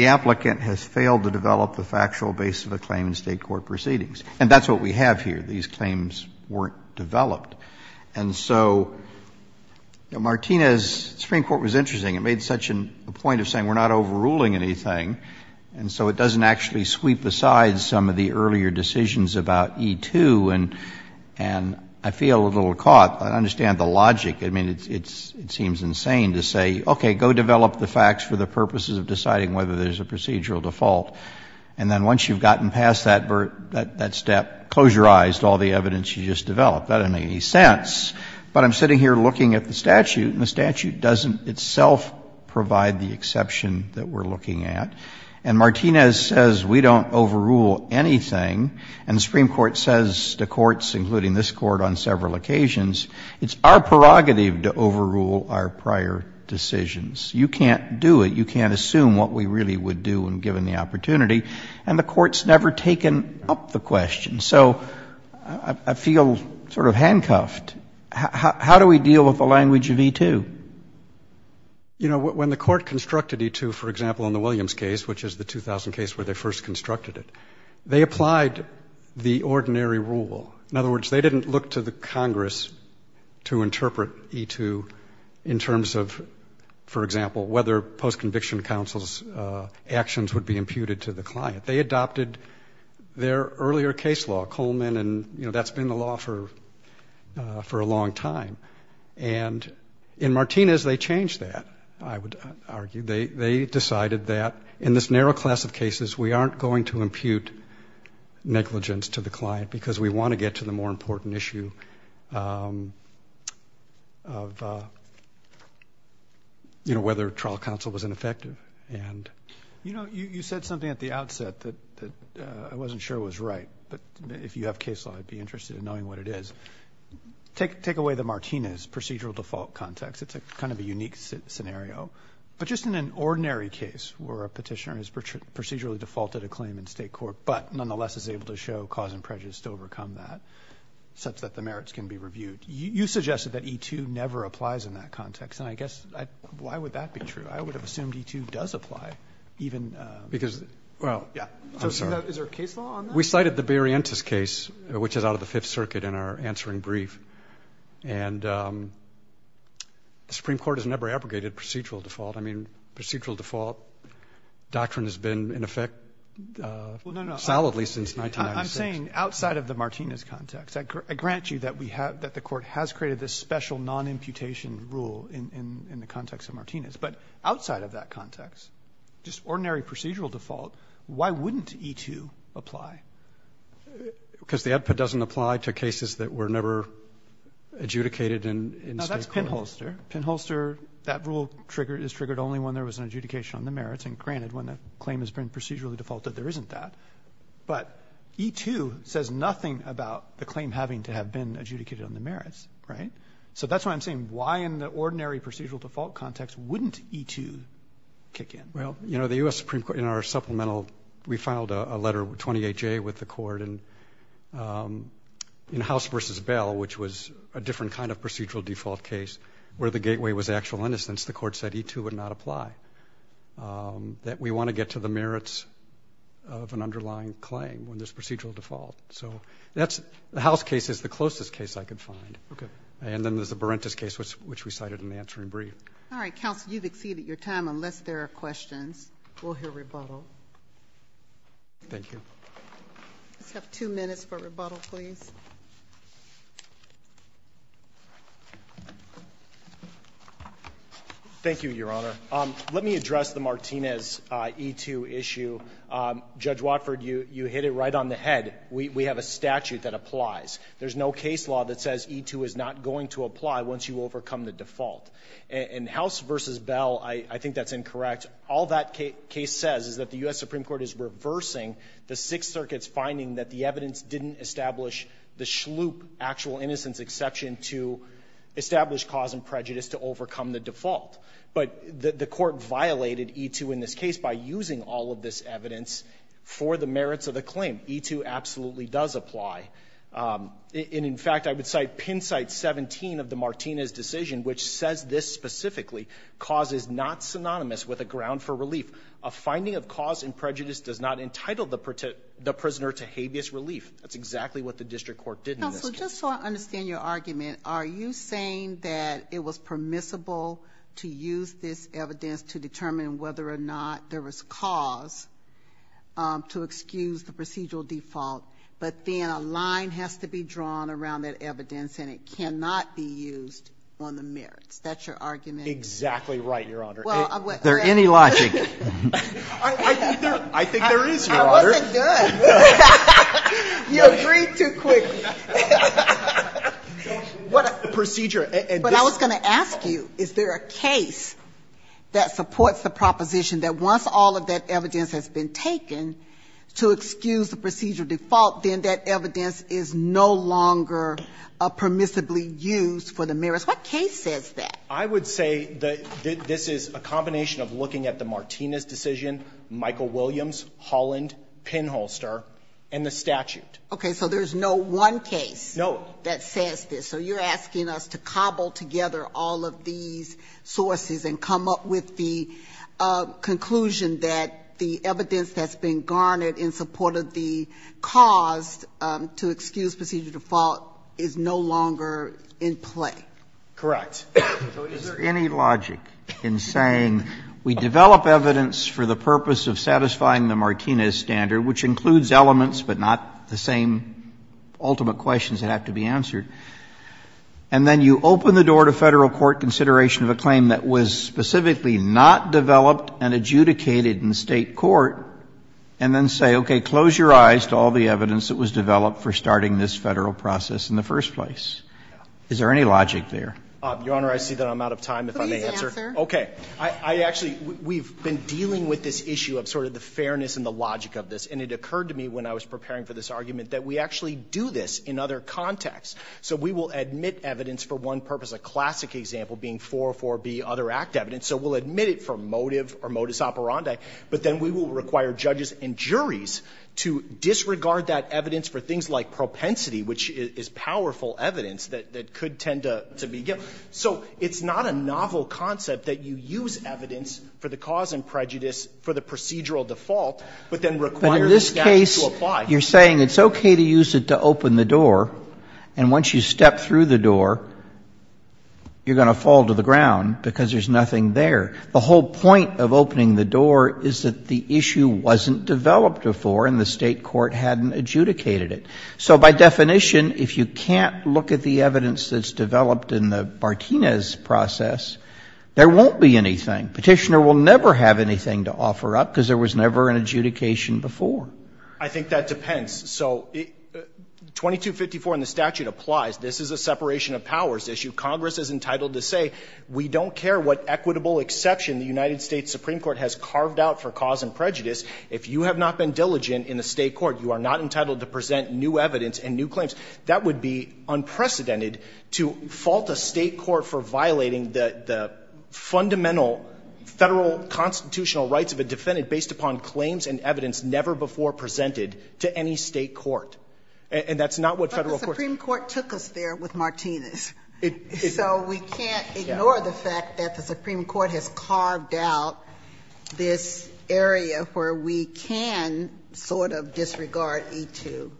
applicant has failed to develop the factual base of a claim in state court proceedings. And that's what we have here. These claims weren't developed. And so Martinez's Supreme Court was interesting. It made such a point of saying we're not overruling anything, and so it doesn't actually sweep aside some of the earlier decisions about E2 and I feel a little caught, but I understand the logic. I mean, it seems insane to say, okay, go develop the facts for the purposes of deciding whether there's a procedural default. And then once you've gotten past that step, close your eyes to all the evidence you just developed. That doesn't make any sense. But I'm sitting here looking at the statute, and the statute doesn't itself provide the exception that we're looking at. And Martinez says we don't overrule anything. And the Supreme Court says to courts, including this court on several occasions, it's our prerogative to overrule our prior decisions. You can't do it. You can't assume what we really would do when given the opportunity. And the court's never taken up the question. So I feel sort of handcuffed. How do we deal with the language of E2? You know, when the court constructed E2, for example, in the Williams case, which is the 2000 case where they first constructed it, they applied the ordinary rule. In other words, they didn't look to the Congress to interpret E2 in terms of, for example, whether post-conviction counsel's actions would be imputed to the client. They adopted their earlier case law, Coleman, and, you know, that's been the law for a long time. And in Martinez they changed that, I would argue. They decided that in this narrow class of cases we aren't going to impute negligence to the client because we want to get to the more important issue of, you know, whether trial counsel was ineffective. You know, you said something at the outset that I wasn't sure was right, but if you have case law I'd be interested in knowing what it is. Take away the Martinez procedural default context. It's kind of a unique scenario. But just in an ordinary case where a petitioner has procedurally defaulted a claim in state court but nonetheless is able to show cause and prejudice to overcome that, such that the merits can be reviewed, you suggested that E2 never applies in that context. And I guess why would that be true? I would have assumed E2 does apply. Is there a case law on that? We cited the Barrientos case, which is out of the Fifth Circuit, in our answering brief. And the Supreme Court has never abrogated procedural default. I mean, procedural default doctrine has been in effect solidly since 1996. I'm saying outside of the Martinez context. I grant you that the court has created this special non-imputation rule in the context of Martinez. But outside of that context, just ordinary procedural default, why wouldn't E2 apply? Because the output doesn't apply to cases that were never adjudicated in state court. No, that's pinholster. Pinholster, that rule is triggered only when there was an adjudication on the merits. And granted, when a claim has been procedurally defaulted, there isn't that. But E2 says nothing about the claim having to have been adjudicated on the merits, right? So that's why I'm saying why in the ordinary procedural default context wouldn't E2 kick in? Well, you know, the U.S. Supreme Court in our supplemental, we filed a letter, 28-J, with the court in House v. Bell, which was a different kind of procedural default case where the gateway was actual innocence. The court said E2 would not apply, that we want to get to the merits of an underlying claim when there's procedural default. So the House case is the closest case I could find. And then there's the Berentos case, which we cited in the answering brief. All right, counsel, you've exceeded your time. Unless there are questions, we'll hear rebuttal. Thank you. We have two minutes for rebuttal, please. Thank you, Your Honor. Let me address the Martinez E2 issue. Judge Watford, you hit it right on the head. We have a statute that applies. There's no case law that says E2 is not going to apply once you overcome the default. In House v. Bell, I think that's incorrect. All that case says is that the U.S. Supreme Court is reversing the Sixth Circuit's finding that the evidence didn't establish the schloop actual innocence exception to establish cause and prejudice to overcome the default. But the court violated E2 in this case by using all of this evidence for the merits of the claim. E2 absolutely does apply. And, in fact, I would cite pen site 17 of the Martinez decision, which says this specifically, cause is not synonymous with a ground for relief. A finding of cause and prejudice does not entitle the prisoner to habeas relief. That's exactly what the district court did in this case. Counsel, just so I understand your argument, are you saying that it was permissible to use this evidence to determine whether or not there was cause to excuse the procedural default, but then a line has to be drawn around that evidence, and it cannot be used on the merits? That's your argument? Exactly right, Your Honor. Is there any logic? I think there is, Your Honor. I wasn't good. You agreed too quickly. What procedure? But I was going to ask you, is there a case that supports the proposition that once all of that evidence has been taken to excuse the procedural default, then that evidence is no longer permissibly used for the merits? What case says that? I would say that this is a combination of looking at the Martinez decision, Michael Williams, Holland, Penholster, and the statute. Okay, so there's no one case that says this. So you're asking us to cobble together all of these sources and come up with the conclusion that the evidence that's been garnered in support of the cause to excuse procedural default is no longer in play. Correct. So is there any logic in saying we develop evidence for the purpose of satisfying the Martinez standard, which includes elements but not the same ultimate questions that have to be answered, and then you open the door to Federal court consideration of a claim that was specifically not developed and adjudicated in state court, and then say, okay, close your eyes to all the evidence that was developed for starting this Federal process in the first place? Is there any logic there? Your Honor, I see that I'm out of time, if I may answer. Okay. I actually, we've been dealing with this issue of sort of the fairness and the logic of this, and it occurred to me when I was preparing for this argument that we actually do this in other contexts. So we will admit evidence for one purpose, a classic example being 404B other act evidence, so we'll admit it for motive or modus operandi, but then we will require judges and juries to disregard that evidence for things like propensity, which is powerful evidence that could tend to be. So it's not a novel concept that you use evidence for the cause and prejudice for the procedural default, but then require the judge In this case, you're saying it's okay to use it to open the door, and once you step through the door, you're going to fall to the ground because there's nothing there. The whole point of opening the door is that the issue wasn't developed before and the state court hadn't adjudicated it. So by definition, if you can't look at the evidence that's developed in the Martinez process, there won't be anything. Petitioner will never have anything to offer up because there was never an adjudication before. I think that depends. So 2254 in the statute applies. This is a separation of powers issue. Congress is entitled to say we don't care what equitable exception the United States Supreme Court has carved out for cause and new evidence and new claims. That would be unprecedented to fault a state court for violating the fundamental federal constitutional rights of a defendant based upon claims and evidence never before presented to any state court. And that's not what federal courts... But the Supreme Court took us there with Martinez. So we can't ignore the fact that the Supreme Court has carved out this area where we can sort of disregard E-2,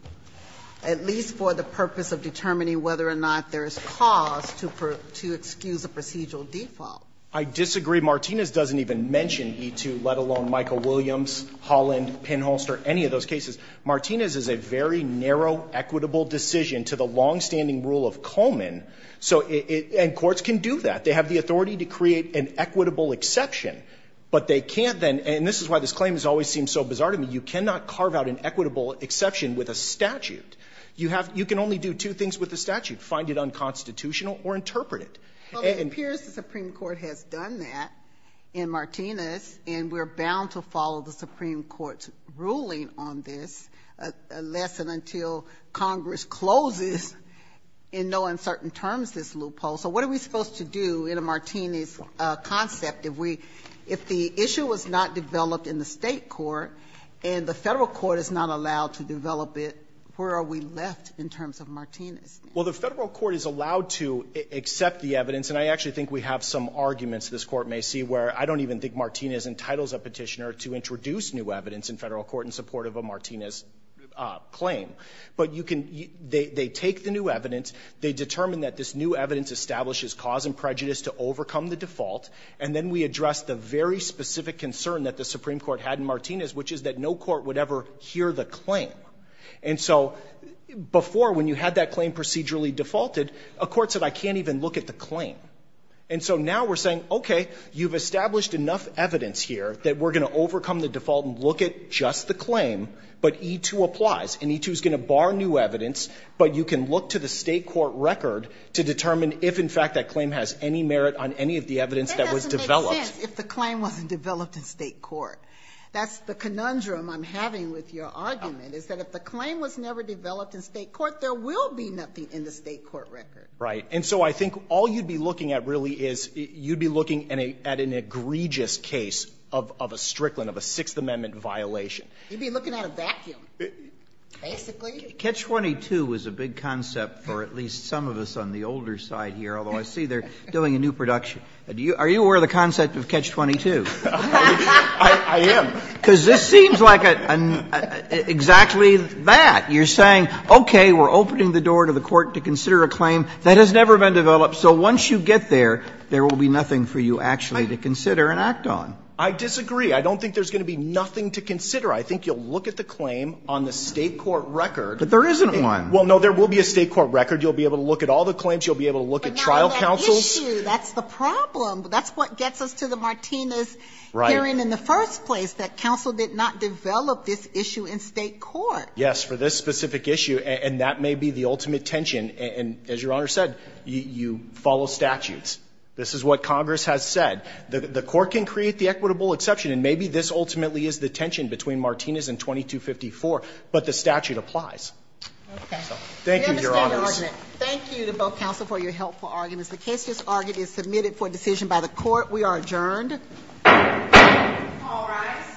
at least for the purpose of determining whether or not there's cause to excuse a procedural default. I disagree. Martinez doesn't even mention E-2, let alone Michael Williams, Holland, Penholster, any of those cases. Martinez is a very narrow equitable decision to the longstanding rule of Coleman, and courts can do that. They have the authority to create an equitable exception, but they can't then, and this is why this claim always seems so bizarre to me, you cannot carve out an equitable exception with a statute. You can only do two things with a statute, find it unconstitutional or interpret it. It appears the Supreme Court has done that in Martinez, and we're bound to follow the Supreme Court's ruling on this unless and until Congress closes in no uncertain terms this loophole. So what are we supposed to do in a Martinez concept? If the issue was not developed in the state court and the federal court is not allowed to develop it, where are we left in terms of Martinez? Well, the federal court is allowed to accept the evidence, and I actually think we have some arguments this court may see, where I don't even think Martinez entitles a petitioner to introduce new evidence in federal court in support of a Martinez claim. But they take the new evidence, they determine that this new evidence establishes cause and prejudice to overcome the default, and then we address the very specific concern that the Supreme Court had in Martinez, which is that no court would ever hear the claim. And so before, when you had that claim procedurally defaulted, a court said, I can't even look at the claim. And so now we're saying, okay, you've established enough evidence here that we're going to overcome the default and look at just the claim, but E2 applies, and E2 is going to bar new evidence, but you can look to the state court record to determine if, in fact, that claim has any merit on any of the evidence that was developed. Yes, if the claim wasn't developed in state court. That's the conundrum I'm having with your argument, is that if the claim was never developed in state court, there will be nothing in the state court record. Right, and so I think all you'd be looking at, really, is you'd be looking at an egregious case of a Strickland, of a Sixth Amendment violation. You'd be looking at a vacuum, basically. Catch-22 was a big concept for at least some of us on the older side here, although I see they're doing a new production. Are you aware of the concept of catch-22? I am. Because this seems like exactly that. You're saying, okay, we're opening the door to the court to consider a claim that has never been developed, so once you get there, there will be nothing for you actually to consider and act on. I disagree. I don't think there's going to be nothing to consider. I think you'll look at the claim on the state court record. But there isn't one. Well, no, there will be a state court record. You'll be able to look at all the claims. You'll be able to look at trial counsels. That's the issue. That's the problem. That's what gets us to the Martinez hearing in the first place, that counsel did not develop this issue in state court. Yes, for this specific issue, and that may be the ultimate tension. And as Your Honor said, you follow statutes. This is what Congress has said. The court can create the equitable exception, and maybe this ultimately is the tension between Martinez and 2254, but the statute applies. Okay. Thank you, Your Honor. Thank you to both counsel for your helpful arguments. The case is argued and submitted for decision by the court. We are adjourned. All rise.